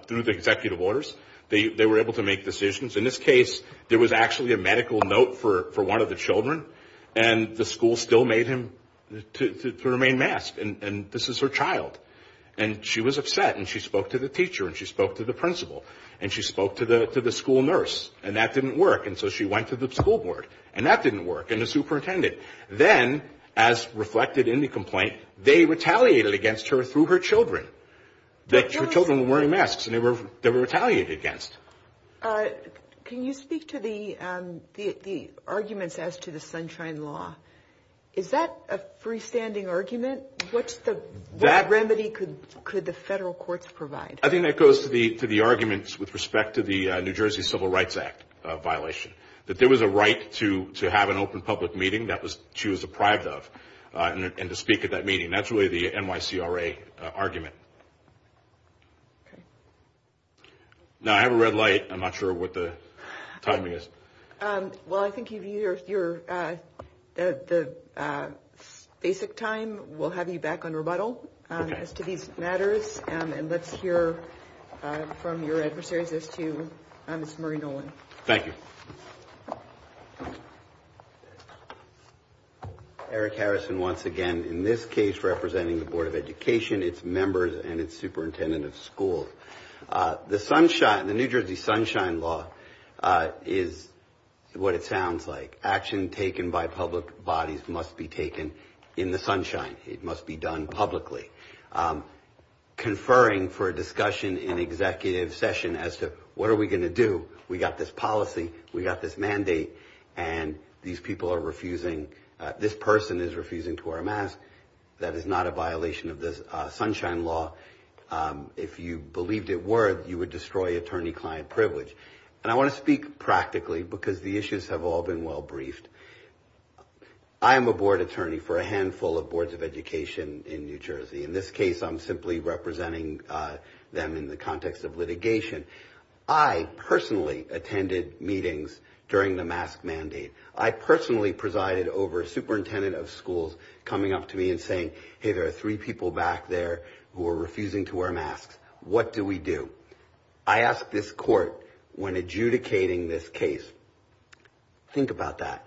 through the executive orders. They were able to make decisions. In this case, there was actually a medical note for one of the children, and the school still made him to remain masked, and this is her child. And she was upset, and she spoke to the teacher, and she spoke to the principal, and she spoke to the school nurse, and that didn't work. And so she went to the school board, and that didn't work, and the superintendent. Then, as reflected in the complaint, they retaliated against her through her children, that her children were wearing masks, and they were retaliated against. Can you speak to the arguments as to the Sunshine Law? Is that a freestanding argument? What remedy could the federal courts provide? I think that goes to the arguments with respect to the New Jersey Civil Rights Act violation, that there was a right to have an open public meeting that she was deprived of, and to speak at that meeting. That's really the NYCRA argument. Okay. Now, I have a red light. I'm not sure what the time is. Well, I think you've used your basic time. We'll have you back on rebuttal as to these matters, and let's hear from your adversaries as to Ms. Marie Nolan. Thank you. Eric Harrison once again. In this case, representing the Board of Education, its members, and its superintendent of schools. The New Jersey Sunshine Law is what it sounds like. Action taken by public bodies must be taken in the sunshine. It must be done publicly. Conferring for a discussion in executive session as to what are we going to do. We've got this policy. We've got this mandate, and these people are refusing. This person is refusing to wear a mask. That is not a violation of the Sunshine Law. If you believed it were, you would destroy attorney-client privilege. And I want to speak practically because the issues have all been well briefed. I'm a board attorney for a handful of boards of education in New Jersey. In this case, I'm simply representing them in the context of litigation. I personally attended meetings during the mask mandate. I personally presided over a superintendent of schools coming up to me and saying, hey, there are three people back there who are refusing to wear masks. What do we do? I asked this court when adjudicating this case, think about that.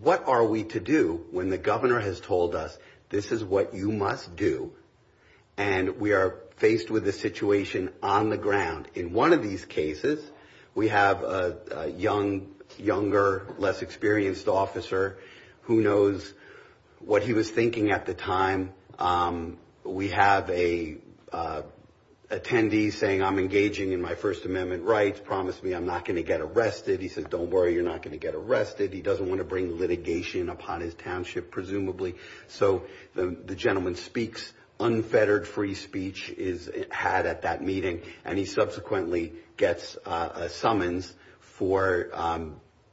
What are we to do when the governor has told us this is what you must do, and we are faced with a situation on the ground? In one of these cases, we have a young, younger, less experienced officer who knows what he was thinking at the time. We have an attendee saying, I'm engaging in my First Amendment rights. Promise me I'm not going to get arrested. He says, don't worry, you're not going to get arrested. He doesn't want to bring litigation upon his township, presumably. So the gentleman speaks. Unfettered free speech is had at that meeting, and he subsequently gets a summons for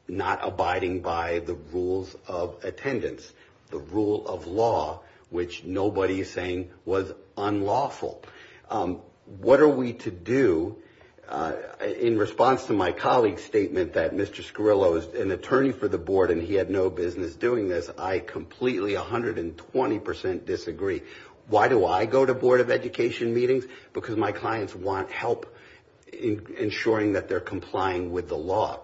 not abiding by the rules of attendance, the rule of law, which nobody is saying was unlawful. What are we to do? In response to my colleague's statement that Mr. Scarillo is an attorney for the board and he had no business doing this, I completely, 120% disagree. Why do I go to Board of Education meetings? Because my clients want help in ensuring that they're complying with the law.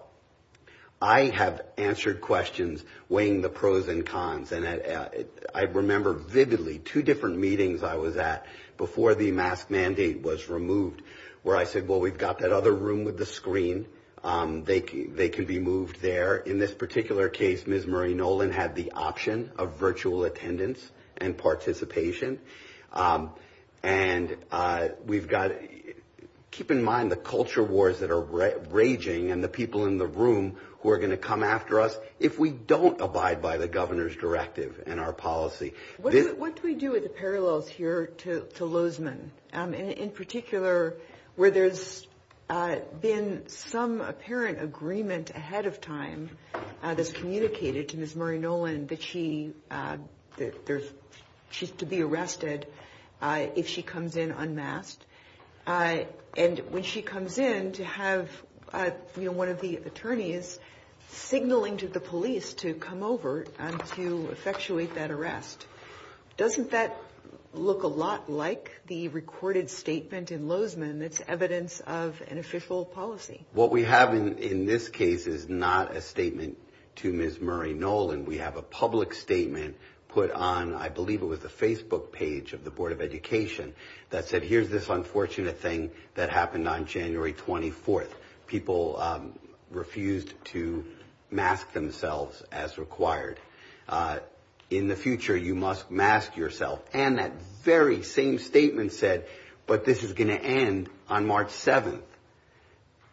I have answered questions weighing the pros and cons. I remember vividly two different meetings I was at before the mask mandate was removed, where I said, well, we've got that other room with the screen. They can be moved there. In this particular case, Ms. Marie Nolan had the option of virtual attendance and participation. And we've got to keep in mind the culture wars that are raging and the people in the room who are going to come after us if we don't abide by the governor's directive in our policy. What do we do with the parallels here to Lozman? In particular, where there's been some apparent agreement ahead of time that's communicated to Ms. Marie Nolan that she's to be arrested if she comes in unmasked. And when she comes in to have one of the attorneys signaling to the police to come over and to effectuate that arrest, doesn't that look a lot like the recorded statement in Lozman that's evidence of an official policy? What we have in this case is not a statement to Ms. Marie Nolan. We have a public statement put on, I believe it was the Facebook page of the Board of Education that said, here's this unfortunate thing that happened on January 24th. People refused to mask themselves as required. In the future, you must mask yourself. And that very same statement said, but this is going to end on March 7th.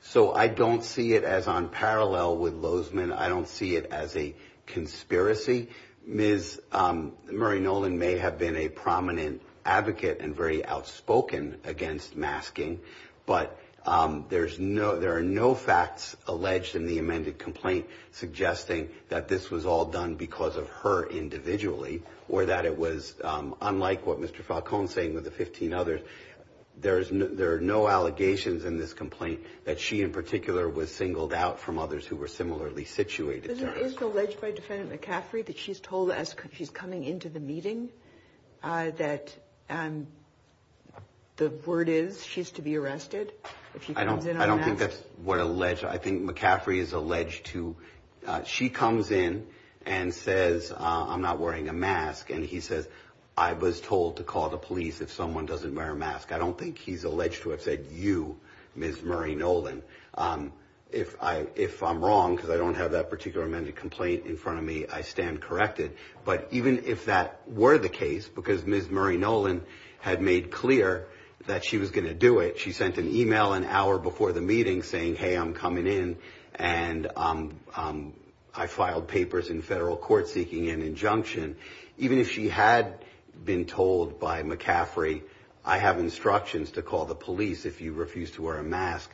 So I don't see it as on parallel with Lozman. I don't see it as a conspiracy. Ms. Marie Nolan may have been a prominent advocate and very outspoken against masking. But there are no facts alleged in the amended complaint suggesting that this was all done because of her individually or that it was unlike what Mr. Falcone is saying with the 15 others. There are no allegations in this complaint that she in particular was singled out from others who were similarly situated. Is it alleged by Defendant McCaffrey that she's told as she's coming into the meeting that the word is she's to be arrested? I don't think that's what alleged. I think McCaffrey is alleged to. She comes in and says, I'm not wearing a mask. And he says, I was told to call the police if someone doesn't wear a mask. I don't think he's alleged to have said you, Ms. Marie Nolan. If I if I'm wrong, because I don't have that particular amended complaint in front of me, I stand corrected. But even if that were the case, because Ms. Marie Nolan had made clear that she was going to do it. She sent an email an hour before the meeting saying, hey, I'm coming in and I filed papers in federal court seeking an injunction. Even if she had been told by McCaffrey, I have instructions to call the police if you refuse to wear a mask.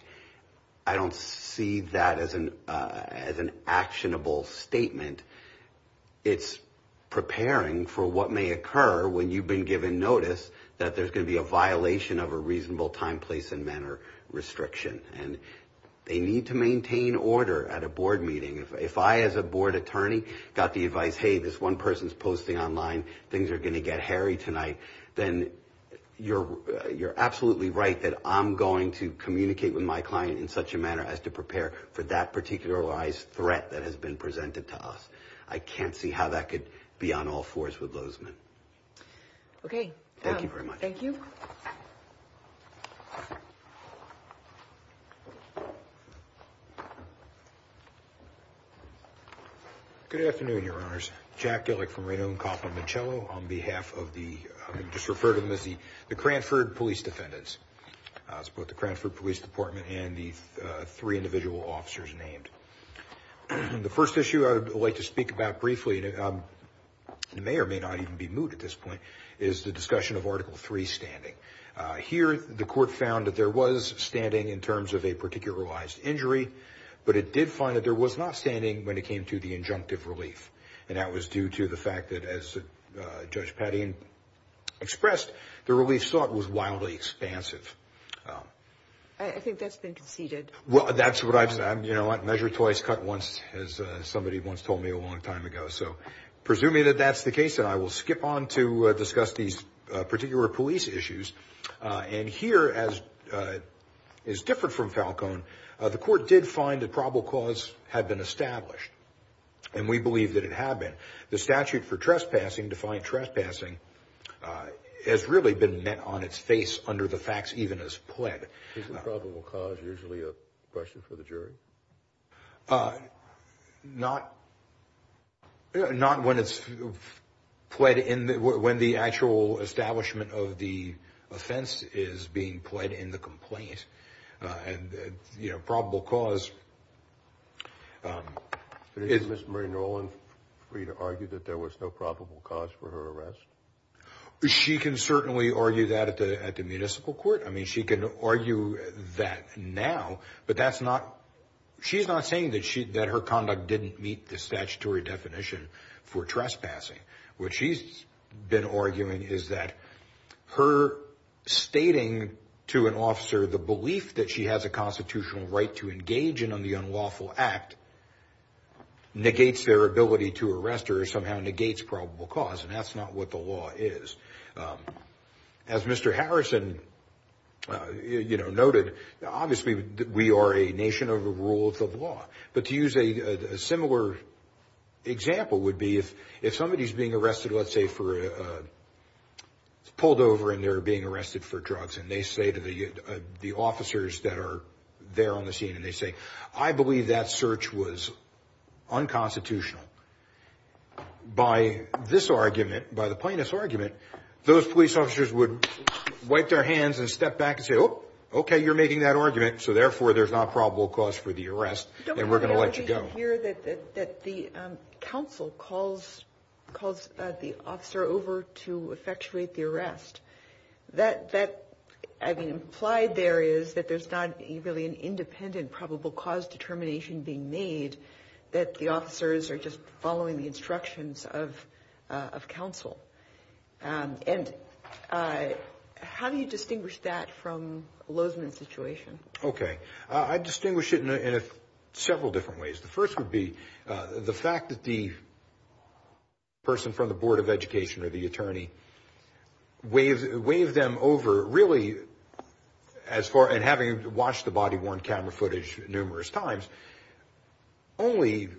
I don't see that as an as an actionable statement. It's preparing for what may occur when you've been given notice that there's going to be a violation of a reasonable time, place and manner restriction. And they need to maintain order at a board meeting. If I, as a board attorney, got the advice, hey, this one person's posting online. Things are going to get hairy tonight. Then you're you're absolutely right that I'm going to communicate with my client in such a manner as to prepare for that particularized threat that has been presented to us. I can't see how that could be on all fours with those men. OK, thank you very much. Thank you. Good afternoon, your honors. Jack Gillick from Reno and Coppola Minchello on behalf of the referred to as the the Cranford Police Defendants. It's both the Cranford Police Department and the three individual officers named. The first issue I would like to speak about briefly, and it may or may not even be moved at this point, is the discussion of Article three standing here. The court found that there was standing in terms of a particularized injury, but it did find that there was not standing when it came to the injunctive relief. And that was due to the fact that, as Judge Pattian expressed, the relief sought was wildly expansive. I think that's been conceded. Well, that's what I've said. You know what? Measure twice, cut once, as somebody once told me a long time ago. So presuming that that's the case, then I will skip on to discuss these particular police issues. And here, as is different from Falcone, the court did find that probable cause had been established. And we believe that it had been. The statute for trespassing, defined trespassing, has really been met on its face under the facts, even as pled. Isn't probable cause usually a question for the jury? Not. Not when it's pled in when the actual establishment of the offense is being pled in the complaint. And, you know, probable cause. Is this Marie Nolan free to argue that there was no probable cause for her arrest? She can certainly argue that at the at the municipal court. I mean, she can argue that now. But that's not she's not saying that she that her conduct didn't meet the statutory definition for trespassing. What she's been arguing is that her stating to an officer the belief that she has a constitutional right to engage in on the unlawful act. Negates their ability to arrest or somehow negates probable cause. And that's not what the law is. As Mr. Harrison noted, obviously, we are a nation of the rules of law. But to use a similar example would be if if somebody is being arrested, let's say, for pulled over and they're being arrested for drugs. And they say to the the officers that are there on the scene and they say, I believe that search was unconstitutional. By this argument, by the plaintiff's argument, those police officers would wipe their hands and step back and say, oh, OK, you're making that argument. So therefore, there's not probable cause for the arrest. And we're going to let you go here that the council calls, calls the officer over to effectuate the arrest that that I mean, The slide there is that there's not really an independent probable cause determination being made that the officers are just following the instructions of of counsel. And how do you distinguish that from Lozman's situation? OK, I distinguish it in several different ways. The first would be the fact that the person from the Board of Education or the attorney wave wave them over, really, as far and having watched the body worn camera footage numerous times. Only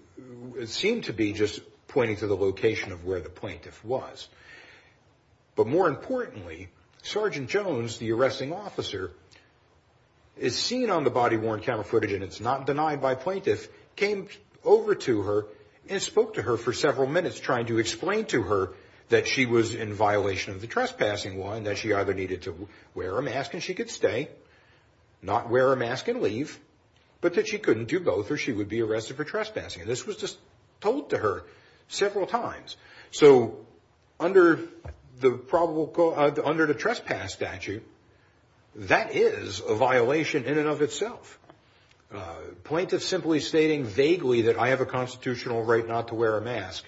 it seemed to be just pointing to the location of where the plaintiff was. But more importantly, Sergeant Jones, the arresting officer, is seen on the body worn camera footage and it's not denied by plaintiff, came over to her and spoke to her for several minutes trying to explain to her that she was in violation of the trespassing law and that she either needed to wear a mask and she could stay, not wear a mask and leave, but that she couldn't do both or she would be arrested for trespassing. And this was just told to her several times. So under the probable, under the trespass statute, that is a violation in and of itself. Plaintiff simply stating vaguely that I have a constitutional right not to wear a mask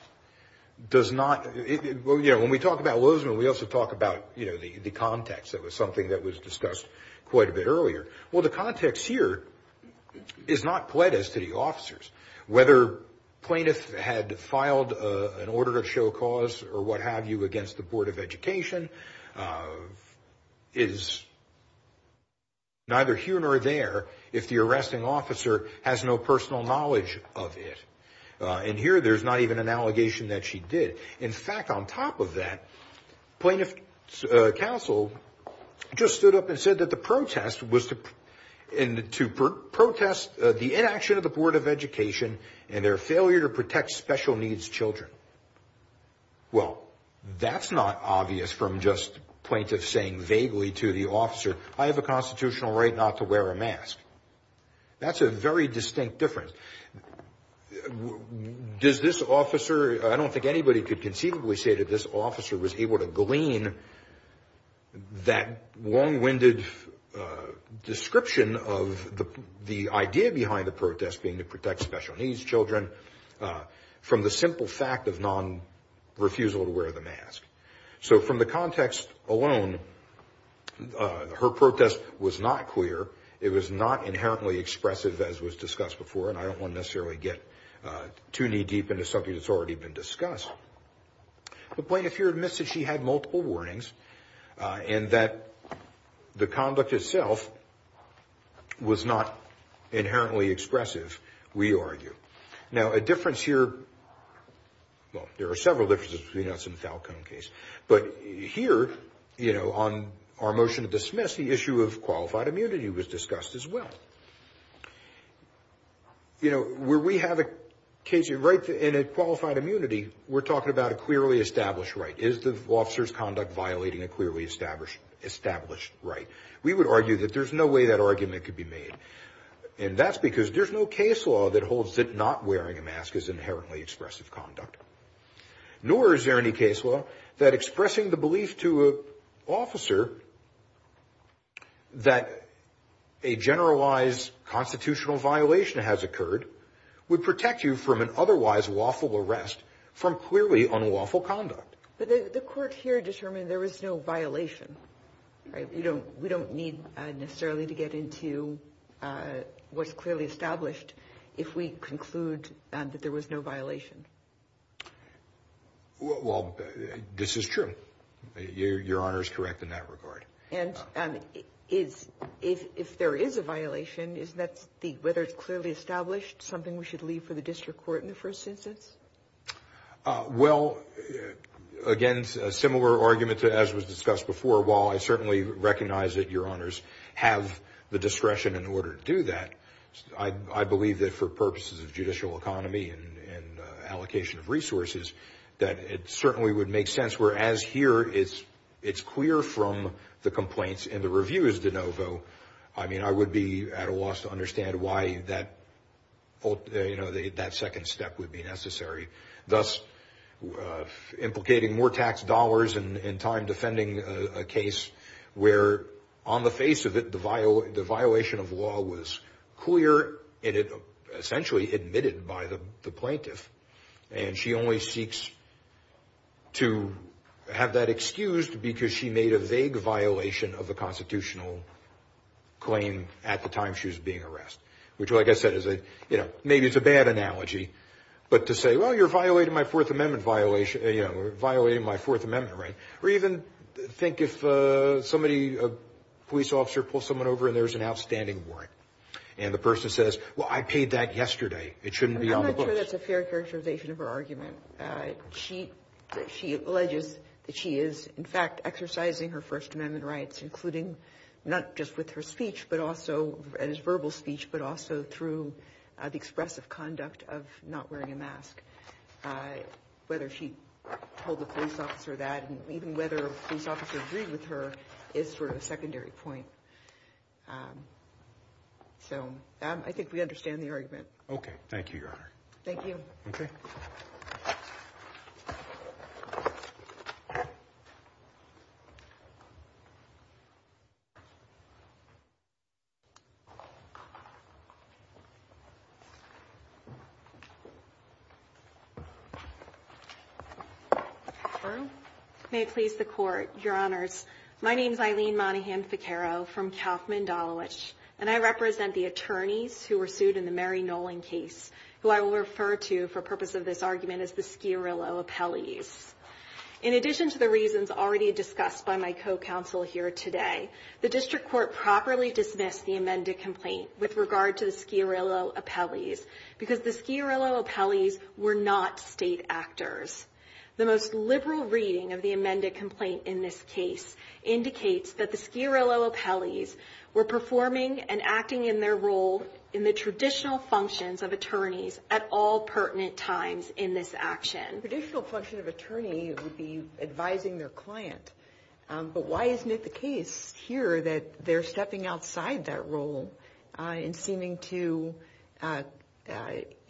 does not, you know, when we talk about Lozman, we also talk about, you know, the context. That was something that was discussed quite a bit earlier. Well, the context here is not pledged to the officers. Whether plaintiff had filed an order to show cause or what have you against the Board of Education is neither here nor there if the arresting officer has no personal knowledge of it. And here there's not even an allegation that she did. In fact, on top of that, plaintiff's counsel just stood up and said that the protest was to protest the inaction of the Board of Education and their failure to protect special needs children. Well, that's not obvious from just plaintiff saying vaguely to the officer, I have a constitutional right not to wear a mask. That's a very distinct difference. Does this officer, I don't think anybody could conceivably say that this officer was able to glean that long winded description of the idea behind the protest being to protect special needs children from the simple fact of non refusal to wear the mask. So from the context alone, her protest was not clear. It was not inherently expressive as was discussed before and I don't want to necessarily get too knee deep into something that's already been discussed. The plaintiff here admits that she had multiple warnings and that the conduct itself was not inherently expressive, we argue. Now, a difference here, well, there are several differences between us and the Falcone case. But here, you know, on our motion to dismiss the issue of qualified immunity was discussed as well. You know, where we have a case of rights and a qualified immunity, we're talking about a clearly established right. Is the officer's conduct violating a clearly established right? We would argue that there's no way that argument could be made. And that's because there's no case law that holds that not wearing a mask is inherently expressive conduct. Nor is there any case law that expressing the belief to an officer that a generalized constitutional violation has occurred would protect you from an otherwise lawful arrest from clearly unlawful conduct. The court here determined there was no violation. We don't need necessarily to get into what's clearly established if we conclude that there was no violation. Well, this is true. Your Honor is correct in that regard. And if there is a violation, is that whether it's clearly established something we should leave for the district court in the first instance? Well, again, a similar argument as was discussed before. While I certainly recognize that Your Honors have the discretion in order to do that, I believe that for purposes of judicial economy and allocation of resources, that it certainly would make sense. Whereas here, it's clear from the complaints and the reviews, DeNovo. I mean, I would be at a loss to understand why that second step would be necessary. Thus, implicating more tax dollars and time defending a case where on the face of it, the violation of law was clear and essentially admitted by the plaintiff. And she only seeks to have that excused because she made a vague violation of the constitutional claim at the time she was being arrested. Which, like I said, maybe is a bad analogy. But to say, well, you're violating my Fourth Amendment right. Or even think if a police officer pulls someone over and there's an outstanding warrant. And the person says, well, I paid that yesterday. It shouldn't be on the books. I'm not sure that's a fair characterization of her argument. She alleges that she is, in fact, exercising her First Amendment rights, including not just with her speech but also as verbal speech, but also through the expressive conduct of not wearing a mask. Whether she told the police officer that and even whether a police officer agreed with her is sort of a secondary point. So I think we understand the argument. Okay. Thank you, Your Honor. Thank you. Okay. May it please the Court, Your Honors. My name is Eileen Monahan-Saccaro from Kaufman-Dolowich, and I represent the attorneys who were sued in the Mary Nolan case, who I will refer to for purpose of this argument as the Schiarrillo appellees. In addition to the reasons already discussed by my co-counsel here today, the district court properly dismissed the amended complaint with regard to the Schiarrillo appellees, because the Schiarrillo appellees were not state actors. The most liberal reading of the amended complaint in this case indicates that the Schiarrillo appellees were performing and acting in their role in the traditional functions of attorneys at all pertinent times in this action. Traditional function of attorney would be advising their client, but why isn't it the case here that they're stepping outside that role and seeming to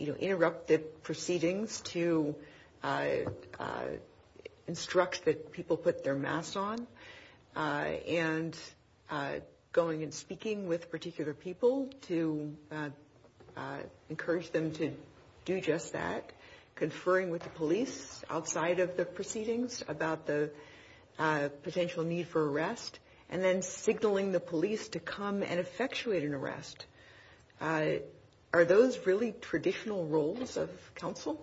interrupt the proceedings to instruct that people put their masks on and going and speaking with particular people to encourage them to do just that, conferring with the police outside of the proceedings about the potential need for arrest, and then signaling the police to come and effectuate an arrest? Are those really traditional roles of counsel?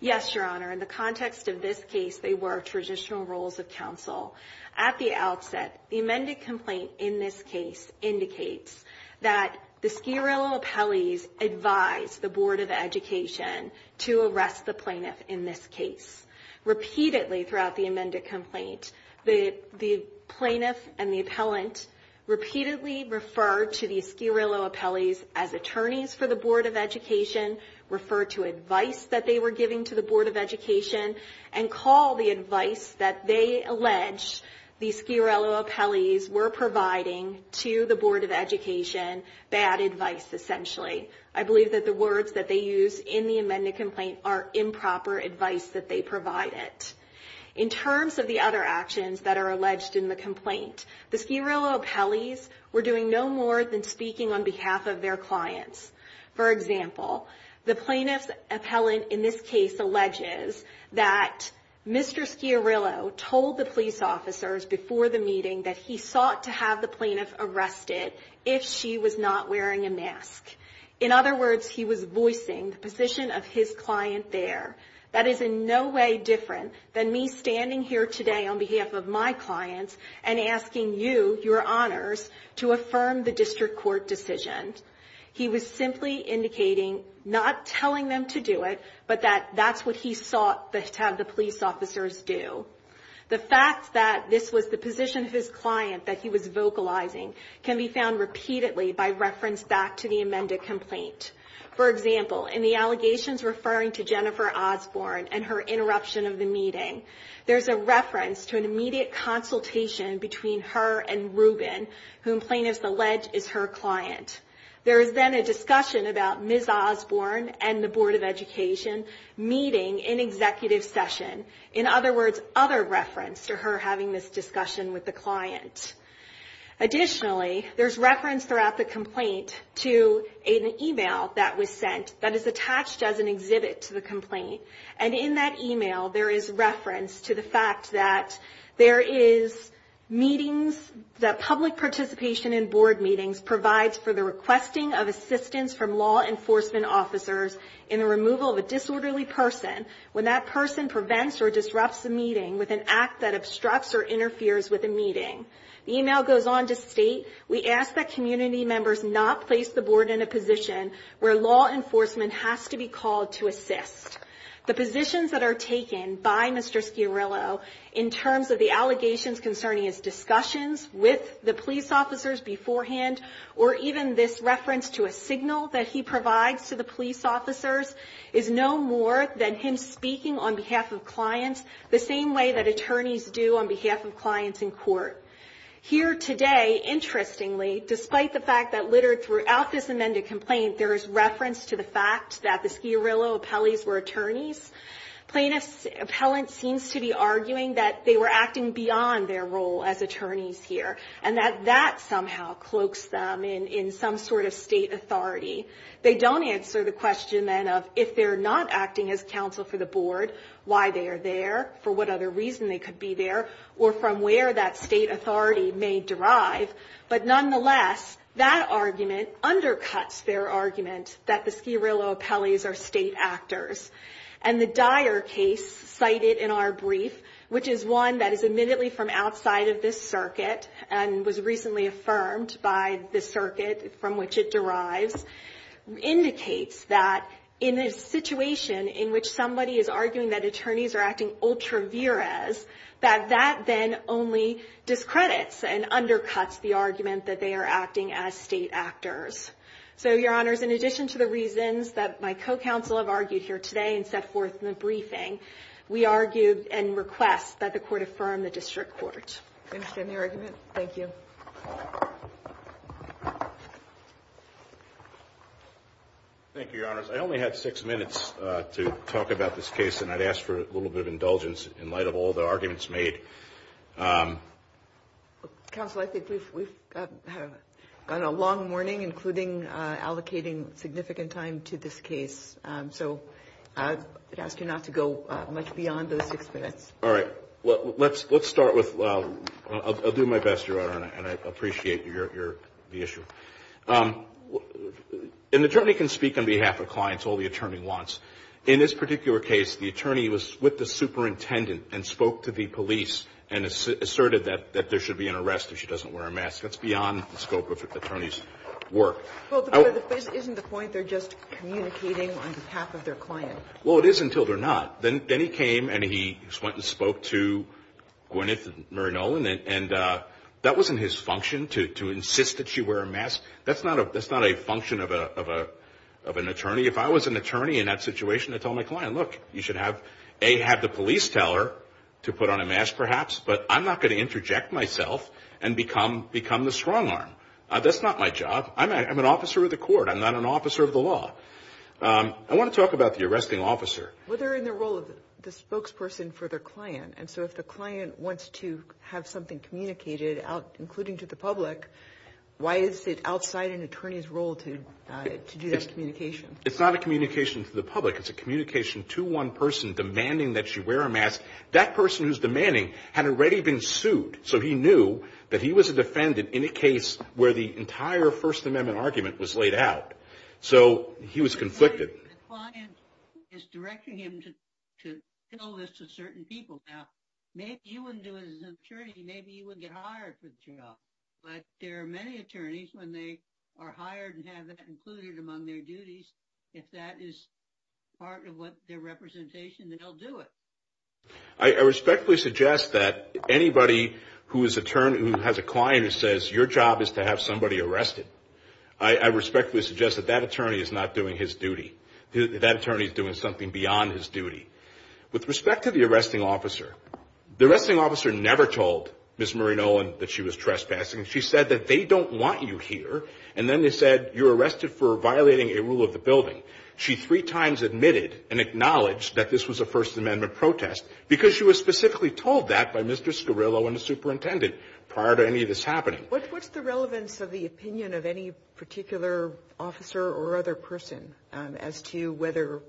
Yes, Your Honor. In the context of this case, they were traditional roles of counsel. At the outset, the amended complaint in this case indicates that the Schiarrillo appellees advised the Board of Education to arrest the plaintiff in this case. Repeatedly throughout the amended complaint, the plaintiff and the appellant repeatedly referred to the Schiarrillo appellees as attorneys for the Board of Education, referred to advice that they were giving to the Board of Education, and called the advice that they alleged the Schiarrillo appellees were providing to the Board of Education bad advice, essentially. I believe that the words that they used in the amended complaint are improper advice that they provided. In terms of the other actions that are alleged in the complaint, the Schiarrillo appellees were doing no more than speaking on behalf of their clients. For example, the plaintiff's appellant in this case alleges that Mr. Schiarrillo told the police officers before the meeting that he sought to have the plaintiff arrested if she was not wearing a mask. In other words, he was voicing the position of his client there. That is in no way different than me standing here today on behalf of my clients and asking you, your honors, to affirm the district court decision. He was simply indicating, not telling them to do it, but that that's what he sought to have the police officers do. The fact that this was the position of his client that he was vocalizing can be found repeatedly by reference back to the amended complaint. For example, in the allegations referring to Jennifer Osborne and her interruption of the meeting, there's a reference to an immediate consultation between her and Ruben, whom plaintiffs allege is her client. There is then a discussion about Ms. Osborne and the Board of Education meeting in executive session. In other words, other reference to her having this discussion with the client. Additionally, there's reference throughout the complaint to an email that was sent that is attached as an exhibit to the complaint. And in that email, there is reference to the fact that there is meetings, that public participation in board meetings provides for the requesting of assistance from law enforcement officers in the removal of a disorderly person when that person prevents or disrupts the meeting with an act that obstructs or interferes with a meeting. The email goes on to state, we ask that community members not place the board in a position where law enforcement has to be called to assist. The positions that are taken by Mr. Schiarillo in terms of the allegations concerning his discussions with the police officers beforehand or even this reference to a signal that he provides to the police officers is no more than him speaking on behalf of clients the same way that attorneys do on behalf of clients in court. Here today, interestingly, despite the fact that littered throughout this amended complaint, there is reference to the fact that the Schiarillo appellees were attorneys. Plaintiff's appellant seems to be arguing that they were acting beyond their role as attorneys here and that that somehow cloaks them in some sort of state authority. They don't answer the question then of if they're not acting as counsel for the board, why they are there, for what other reason they could be there, or from where that state authority may derive. But nonetheless, that argument undercuts their argument that the Schiarillo appellees are state actors. And the dire case cited in our brief, which is one that is admittedly from outside of this circuit and was recently affirmed by the circuit from which it derives, indicates that in a situation in which somebody is arguing that attorneys are acting ultra vires, that that then only discredits and undercuts the argument that they are acting as state actors. So, your honors, in addition to the reasons that my co-counsel have argued here today and set forth in the briefing, we argue and request that the court affirm the district court. I understand the argument. Thank you. Thank you, your honors. I only have six minutes to talk about this case, and I'd ask for a little bit of indulgence in light of all the arguments made. Counsel, I think we've gone a long morning, including allocating significant time to this case. So, I'd ask you not to go much beyond those six minutes. All right. Let's start with, I'll do my best, your honor, and I appreciate the issue. An attorney can speak on behalf of clients all the attorney wants. In this particular case, the attorney was with the superintendent and spoke to the police and asserted that there should be an arrest if she doesn't wear a mask. That's beyond the scope of the attorney's work. Well, but isn't the point they're just communicating on behalf of their client? Well, it is until they're not. Then he came and he spoke to Gwyneth and Mary Nolan, and that wasn't his function to insist that she wear a mask. That's not a function of an attorney. See, if I was an attorney in that situation, I'd tell my client, look, you should have A, have the police tell her to put on a mask perhaps, but I'm not going to interject myself and become the strong arm. That's not my job. I'm an officer of the court. I'm not an officer of the law. I want to talk about the arresting officer. Well, they're in the role of the spokesperson for their client, and so if the client wants to have something communicated, including to the public, why is it outside an attorney's role to do that communication? It's not a communication to the public. It's a communication to one person demanding that she wear a mask. That person who's demanding had already been sued, so he knew that he was a defendant in a case where the entire First Amendment argument was laid out. So he was conflicted. The client is directing him to tell this to certain people. Now, maybe you wouldn't do it as an attorney. Maybe you wouldn't get hired for the job, but there are many attorneys when they are hired and have that included among their duties, if that is part of their representation, then they'll do it. I respectfully suggest that anybody who has a client who says your job is to have somebody arrested, I respectfully suggest that that attorney is not doing his duty. That attorney is doing something beyond his duty. With respect to the arresting officer, the arresting officer never told Ms. Marie Nolan that she was trespassing. She said that they don't want you here, and then they said you're arrested for violating a rule of the building. She three times admitted and acknowledged that this was a First Amendment protest because she was specifically told that by Mr. Scarillo and the superintendent prior to any of this happening. What's the relevance of the opinion of any particular officer or other person as to whether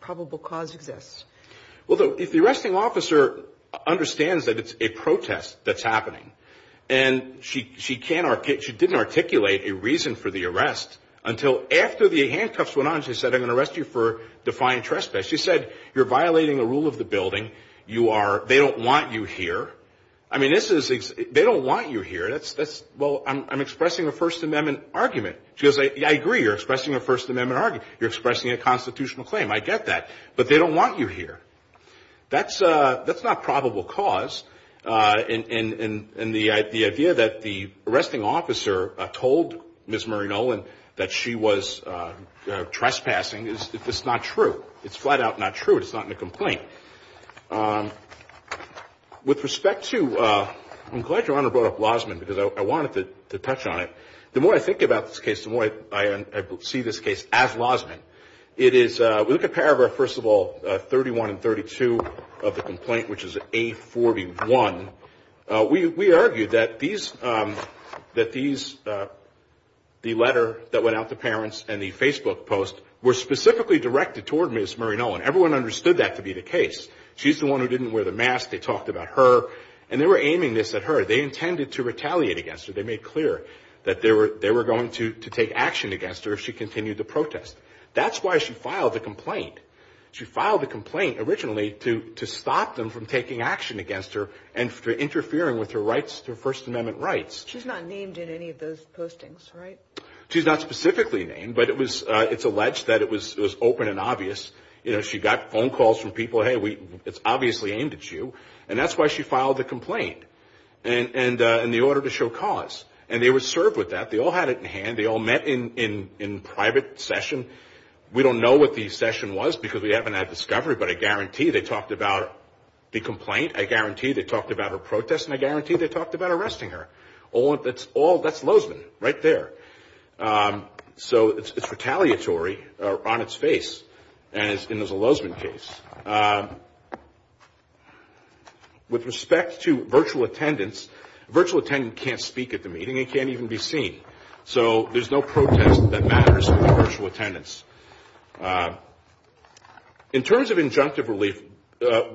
probable cause exists? Well, the arresting officer understands that it's a protest that's happening, and she didn't articulate a reason for the arrest until after the handcuffs went on. She said, I'm going to arrest you for defying trespass. She said, you're violating the rule of the building. They don't want you here. They don't want you here. Well, I'm expressing a First Amendment argument. She goes, I agree, you're expressing a First Amendment argument. You're expressing a constitutional claim. I get that, but they don't want you here. That's not probable cause, and the idea that the arresting officer told Ms. Marie Nolan that she was trespassing is not true. It's flat out not true. It's not in the complaint. With respect to – I'm glad Your Honor brought up Lozman because I wanted to touch on it. The more I think about this case, the more I see this case as Lozman. It is – we look at paragraph, first of all, 31 and 32 of the complaint, which is A41. We argue that these – the letter that went out to parents and the Facebook post were specifically directed toward Ms. Marie Nolan. Everyone understood that to be the case. She's the one who didn't wear the mask. They talked about her, and they were aiming this at her. They intended to retaliate against her. They made clear that they were going to take action against her if she continued the protest. That's why she filed the complaint. She filed the complaint originally to stop them from taking action against her and for interfering with her rights, her First Amendment rights. She's not named in any of those postings, right? She's not specifically named, but it's alleged that it was open and obvious. She got phone calls from people, hey, it's obviously aimed at you, and that's why she filed the complaint in the order to show cause. And they were served with that. They all had it in hand. They all met in private session. We don't know what the session was because we haven't had discovery, but I guarantee they talked about the complaint. I guarantee they talked about her protest, and I guarantee they talked about arresting her. That's Lozman right there. So it's retaliatory on its face, and it's in the Lozman case. With respect to virtual attendance, virtual attendance can't speak at the meeting. It can't even be seen. So there's no protest that matters in virtual attendance. In terms of injunctive relief,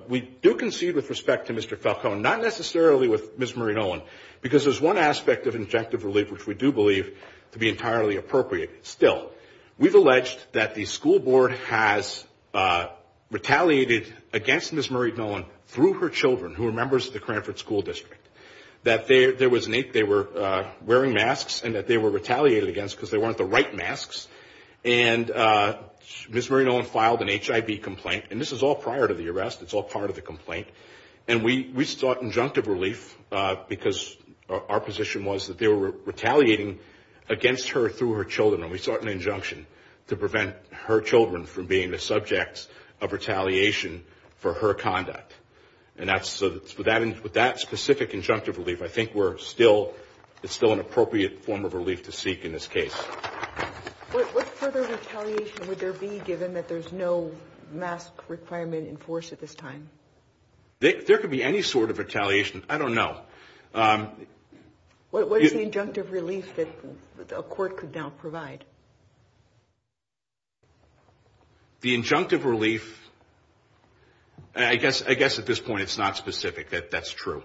we do concede with respect to Mr. Falcone, not necessarily with Ms. Marie Nolan, because there's one aspect of injunctive relief which we do believe to be entirely appropriate still. We've alleged that the school board has retaliated against Ms. Marie Nolan through her children, who are members of the Cranford School District, that they were wearing masks and that they were retaliated against because they weren't the right masks. And Ms. Marie Nolan filed an HIV complaint, and this is all prior to the arrest. It's all part of the complaint. And we sought injunctive relief because our position was that they were retaliating against her through her children, and we sought an injunction to prevent her children from being the subject of retaliation for her conduct. And with that specific injunctive relief, I think it's still an appropriate form of relief to seek in this case. What sort of retaliation would there be given that there's no mask requirement in force at this time? There could be any sort of retaliation. I don't know. What is the injunctive relief that a court could now provide? The injunctive relief, I guess at this point it's not specific. That's true.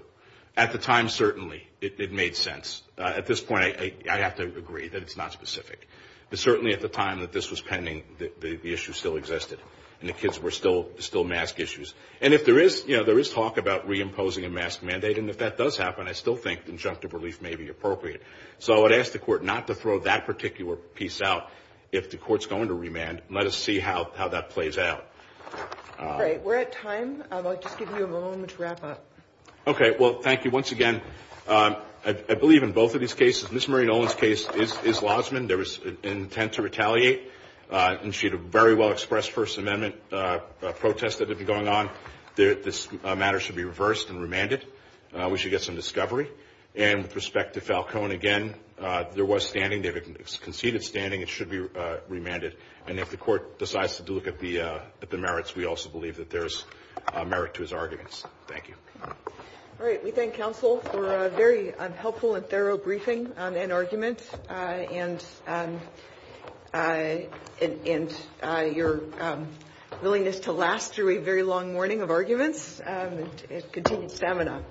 At the time, certainly, it made sense. At this point, I have to agree that it's not specific. But certainly at the time that this was pending, the issue still existed, and the kids were still mask issues. And if there is talk about reimposing a mask mandate, and if that does happen, I still think injunctive relief may be appropriate. So I would ask the court not to throw that particular piece out. If the court's going to remand, let us see how that plays out. We're at time. I'd like to give you a moment to wrap up. Okay. Well, thank you once again. I believe in both of these cases, Ms. Maureen Olin's case is Lossman. There was an intent to retaliate, and she had a very well-expressed First Amendment protest that would be going on. This matter should be reversed and remanded. We should get some discovery. And with respect to Falcone, again, there was standing. They've conceded standing. It should be remanded. And if the court decides to look at the merits, we also believe that there's merit to his arguments. Thank you. All right. We thank counsel for a very helpful and thorough briefing and arguments, and your willingness to last through a very long morning of arguments and continued stamina.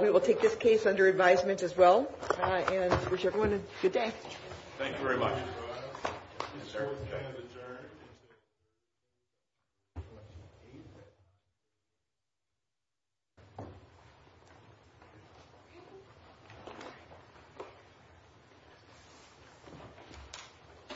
We will take this case under advisement as well, and I wish everyone a good day. Thank you very much. Thank you.